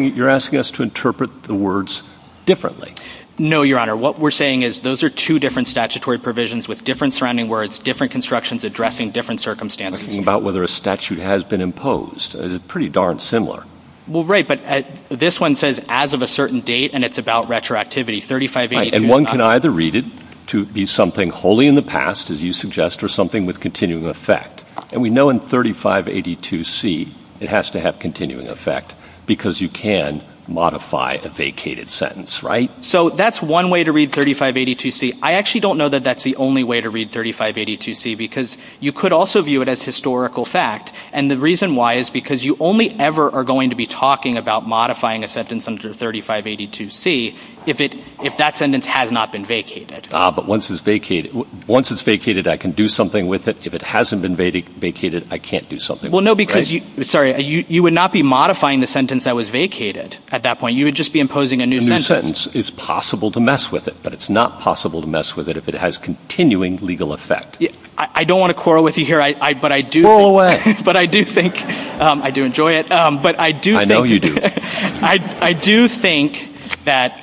But you're asking us to interpret the words differently. No, Your Honor. What we're saying is those are two different statutory provisions with different surrounding words, different constructions addressing different circumstances. We're talking about whether a statute has been imposed. It's pretty darn similar. Well, right. But this one says as of a certain date, and it's about retroactivity. And one can either read it to be something wholly in the past, as you suggest, or something with continuing effect. And we know in 3582C, it has to have continuing effect because you can modify a vacated sentence, right? So that's one way to read 3582C. I actually don't know that that's the only way to read 3582C because you could also view it as historical fact. And the reason why is because you only ever are going to be talking about modifying a sentence under 3582C if that sentence has not been vacated. But once it's vacated, I can do something with it. If it hasn't been vacated, I can't do something. Well, no, because you... Sorry. You would not be modifying the sentence that was vacated at that point. You would just be imposing a new sentence. A new sentence is possible to mess with it, but it's not possible to mess with it if it has continuing legal effect. I don't want to quarrel with you here, but I do think... Go away. But I do think... I do enjoy it, but I do think... I know you do. I do think that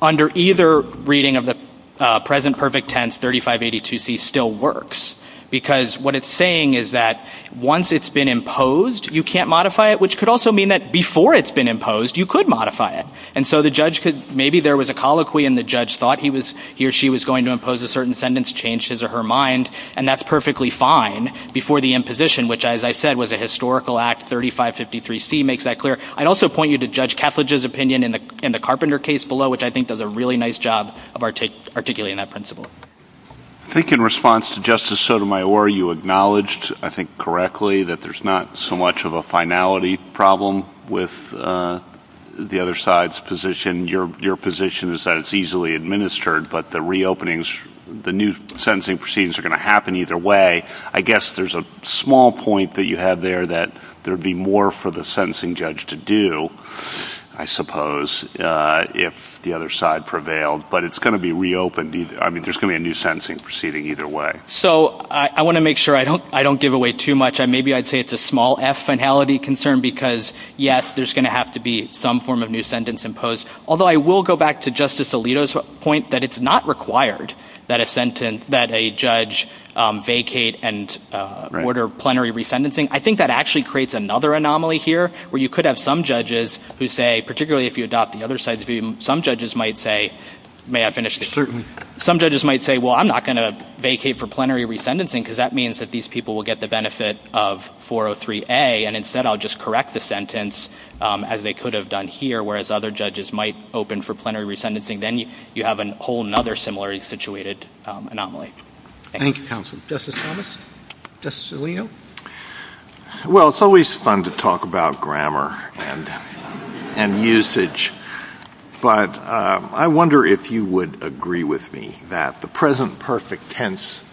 under either reading of the present perfect tense, 3582C still works because what it's saying is that once it's been imposed, you can't modify it, which could also mean that before it's been imposed, you could modify it. And so the judge could... Maybe there was a colloquy and the judge thought he or she was going to impose a certain sentence, changed his or her mind, and that's perfectly fine before the imposition, which, as I said, was a historical act. 3553C makes that clear. I'd also point you to Judge Kaffledge's opinion in the Carpenter case below, which I think does a really nice job of articulating that principle. I think in response to Justice Sotomayor, you acknowledged, I think correctly, that there's not so much of a finality problem with the other side's position. Your position is that it's sentencing proceedings are going to happen either way. I guess there's a small point that you have there that there'd be more for the sentencing judge to do, I suppose, if the other side prevailed, but it's going to be reopened. I mean, there's going to be a new sentencing proceeding either way. So I want to make sure I don't give away too much. Maybe I'd say it's a small F finality concern because, yes, there's going to have to be some form of new sentence imposed, although I will go back to Justice Alito's point that it's not required that a sentence, that a judge vacate and order plenary re-sentencing. I think that actually creates another anomaly here where you could have some judges who say, particularly if you adopt the other side's view, some judges might say, may I finish this? Some judges might say, well, I'm not going to vacate for plenary re-sentencing because that means that these people will get the benefit of 403A, and instead I'll just correct the sentence as they could have done here, whereas other judges might open for plenary re-sentencing. Then you have a whole other similarly situated anomaly. Thank you, counsel. Justice Thomas? Justice Alito? Well, it's always fun to talk about grammar and usage, but I wonder if you would agree with me that the present perfect tense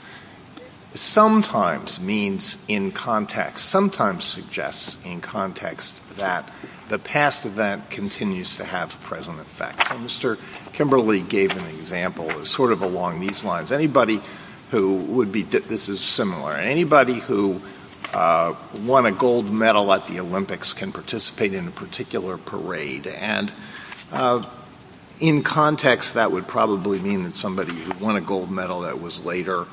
sometimes means in context, sometimes suggests in context that the past event continues to have present effects. Mr. Kimberly gave an example sort of along these lines. Anybody who would be, this is similar, anybody who won a gold medal at the Olympics can participate in a particular parade, and in context that would probably mean that somebody who won a gold medal that was later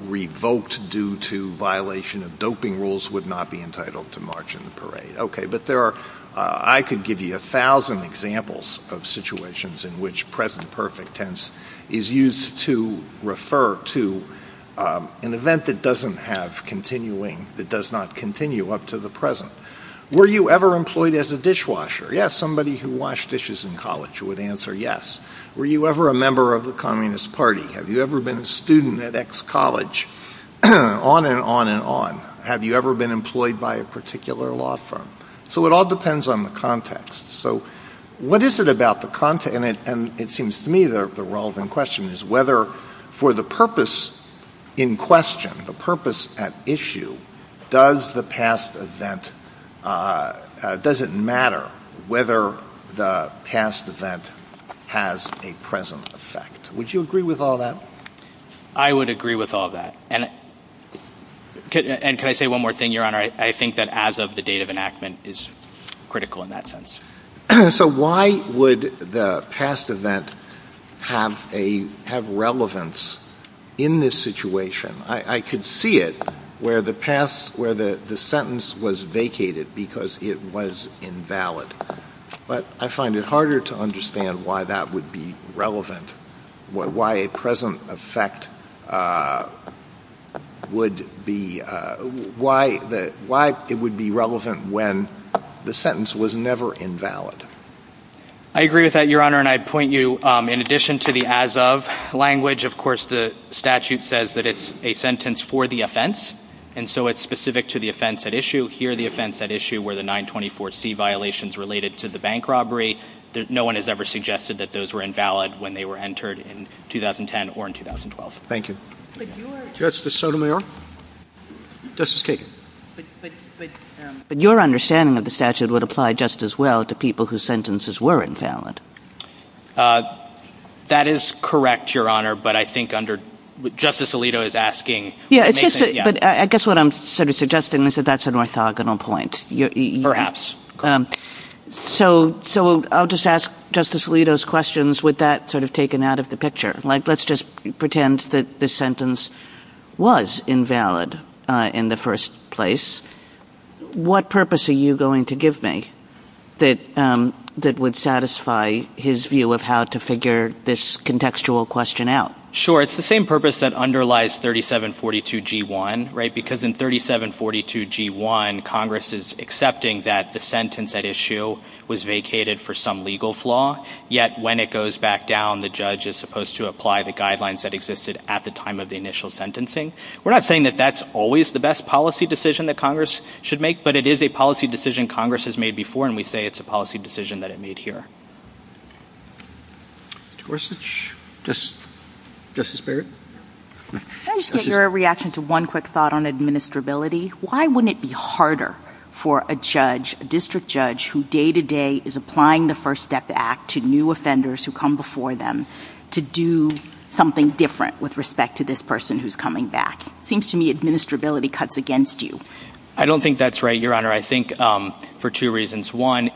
revoked due to violation of doping rules would not be entitled to march in the parade. Okay, but there are, I could give you a thousand examples of situations in which present perfect tense is used to refer to an event that doesn't have continuing, that does not continue up to the present. Were you ever employed as a dishwasher? Yes. Somebody who washed dishes in college would answer yes. Were you ever a member of the Communist Party? Have you ever been employed by a particular law firm? So it all depends on the context. So what is it about the context, and it seems to me the relevant question is whether for the purpose in question, the purpose at issue, does the past event, does it matter whether the past event has a present effect? Would you agree with all that? I would agree with all that, and could I say one more thing, Your Honor? I think that as of the date of enactment is critical in that sense. So why would the past event have a, have relevance in this situation? I could see it where the past, where the sentence was vacated because it was invalid, but I find it harder to understand why that would be relevant, why a present effect would be, why it would be relevant when the sentence was never invalid. I agree with that, Your Honor, and I'd point you in addition to the as of language, of course, the statute says that it's a sentence for the offense, and so it's specific to the offense at issue. Here the offense at issue were the 924C violations related to the bank robbery. No one has ever suggested that those were invalid when they were entered in 2010 or in 2012. Thank you. Justice Sotomayor? Justice Kagan? But your understanding of the statute would apply just as well to people whose sentences were invalid. That is correct, Your Honor, but I think under, Justice Alito is asking. But I guess what I'm sort of suggesting is that that's an orthogonal point. So I'll just ask Justice Alito's questions with that sort of taken out of the picture, like let's just pretend that the sentence was invalid in the first place. What purpose are you going to give me that would satisfy his view of how to figure this contextual question out? Sure. It's the same purpose that underlies 3742G1, right? Because in 3742G1, Congress is accepting that the sentence at issue was vacated for some legal flaw, yet when it goes back down, the judge is supposed to apply the guidelines that existed at the time of the initial sentencing. We're not saying that that's always the best policy decision that Congress should make, but it is a policy decision Congress has made before, and we say it's a policy decision that made here. Justice Barrett? Can I just take your reaction to one quick thought on administrability? Why wouldn't it be harder for a judge, a district judge, who day-to-day is applying the First Step Act to new offenders who come before them to do something different with respect to this person who's coming back? It seems to me administrability cuts against you. I don't think that's right, Your Honor. I think for two reasons. One,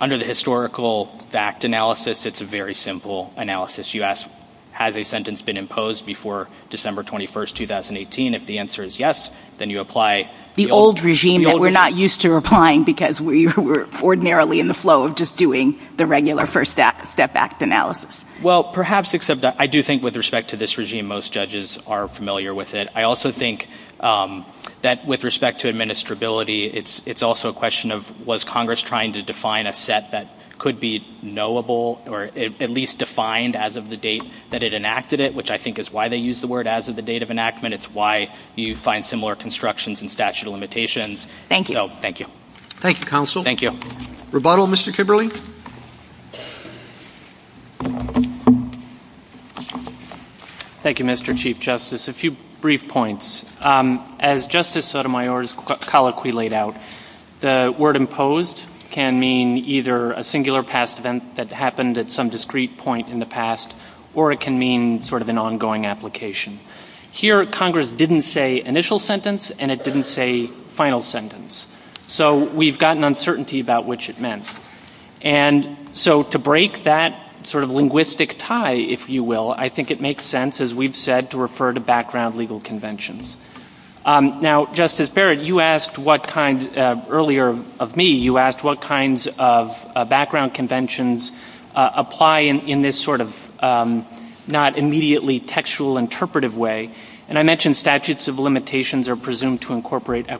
under the historical fact analysis, it's a very simple analysis. You ask, has a sentence been imposed before December 21st, 2018? If the answer is yes, then you apply... The old regime that we're not used to applying because we were ordinarily in the flow of just doing the regular First Step Act analysis. Well, perhaps, except that I do think with respect to this regime, most judges are familiar with it. I also think that with respect to administrability, it's also a question of was Congress trying to define a set that could be knowable or at least defined as of the date that it enacted it, which I think is why they use the word as of the date of enactment. It's why you find similar constructions and statute of limitations. Thank you. Thank you, counsel. Thank you. Rebuttal, Mr. Kibberley? Thank you, Mr. Chief Justice. A few brief points. As Justice Sotomayor's colloquy laid out, the word imposed can mean either a singular past event that happened at some discrete point in the past, or it can mean sort of an ongoing application. Here, Congress didn't say initial sentence, and it didn't say final sentence. So we've got an uncertainty about which it meant. And so to break that sort of linguistic tie, if you will, I think it makes sense, as we've said, to refer to background legal conventions. Now, Justice Barrett, you asked what kind earlier of me, you asked what kinds of background conventions apply in this sort of not immediately textual interpretive way. And I mentioned statutes of limitations are presumed to incorporate are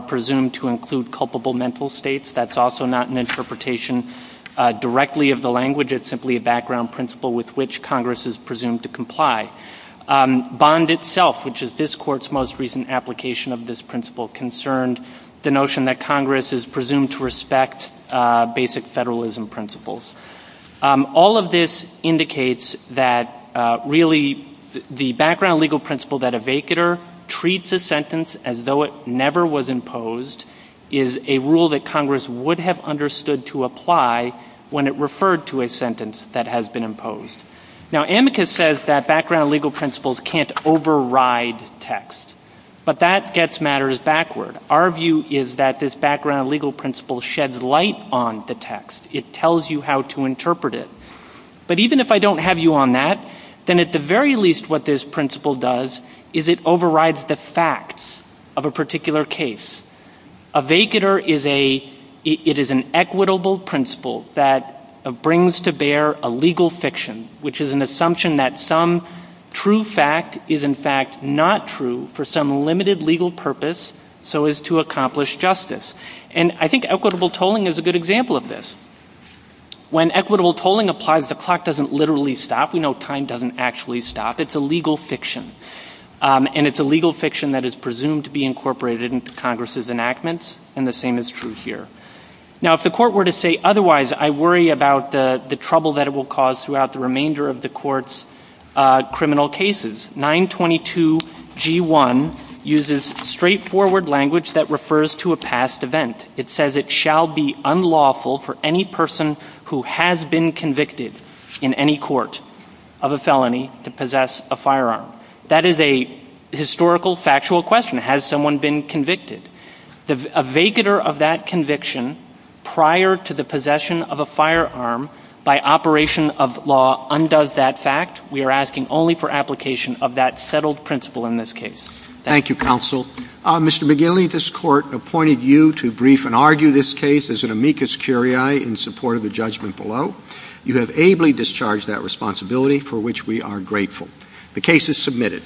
presumed to include culpable mental states. That's also not an interpretation directly of the language. It's simply a background principle with which Congress is presumed to comply. Bond itself, which is this Court's most recent application of this principle, concerned the notion that Congress is presumed to respect basic federalism principles. All of this indicates that really the background legal principle that a vacater treats a sentence as though it never was imposed is a rule that Congress would have understood to apply when it referred to a sentence that has been imposed. Now, Amicus says that background legal principles can't override text. But that gets matters backward. Our view is that this background legal principle sheds light on the text. It tells you how to interpret it. But even if I don't have you on that, then at the very least what this principle does is it overrides the facts of a particular case. A vacater is an equitable principle that brings to bear a legal fiction, which is an assumption that some true fact is in fact not true for some limited legal purpose so as to accomplish justice. And I think equitable tolling is a good example of this. When equitable tolling applies, the clock doesn't literally stop. We know time doesn't actually stop. It's a legal fiction. And it's a legal fiction that is presumed to be incorporated into Congress's enactments. And the same is true here. Now, if the court were to say otherwise, I worry about the trouble that it will cause throughout the remainder of the court's criminal cases. 922 G1 uses straightforward language that refers to a past event. It says it shall be unlawful for any person who has been convicted in any court of a felony to possess a firearm. That is a historical, factual question. Has someone been convicted? A vacater of that conviction prior to the possession of a firearm by operation of law undoes that fact. We are asking only for application of that settled principle in this case. Thank you, counsel. Mr. McGilley, the plaintiff's court appointed you to brief and argue this case as an amicus curiae in support of the judgment below. You have ably discharged that responsibility, for which we are grateful. The case is submitted.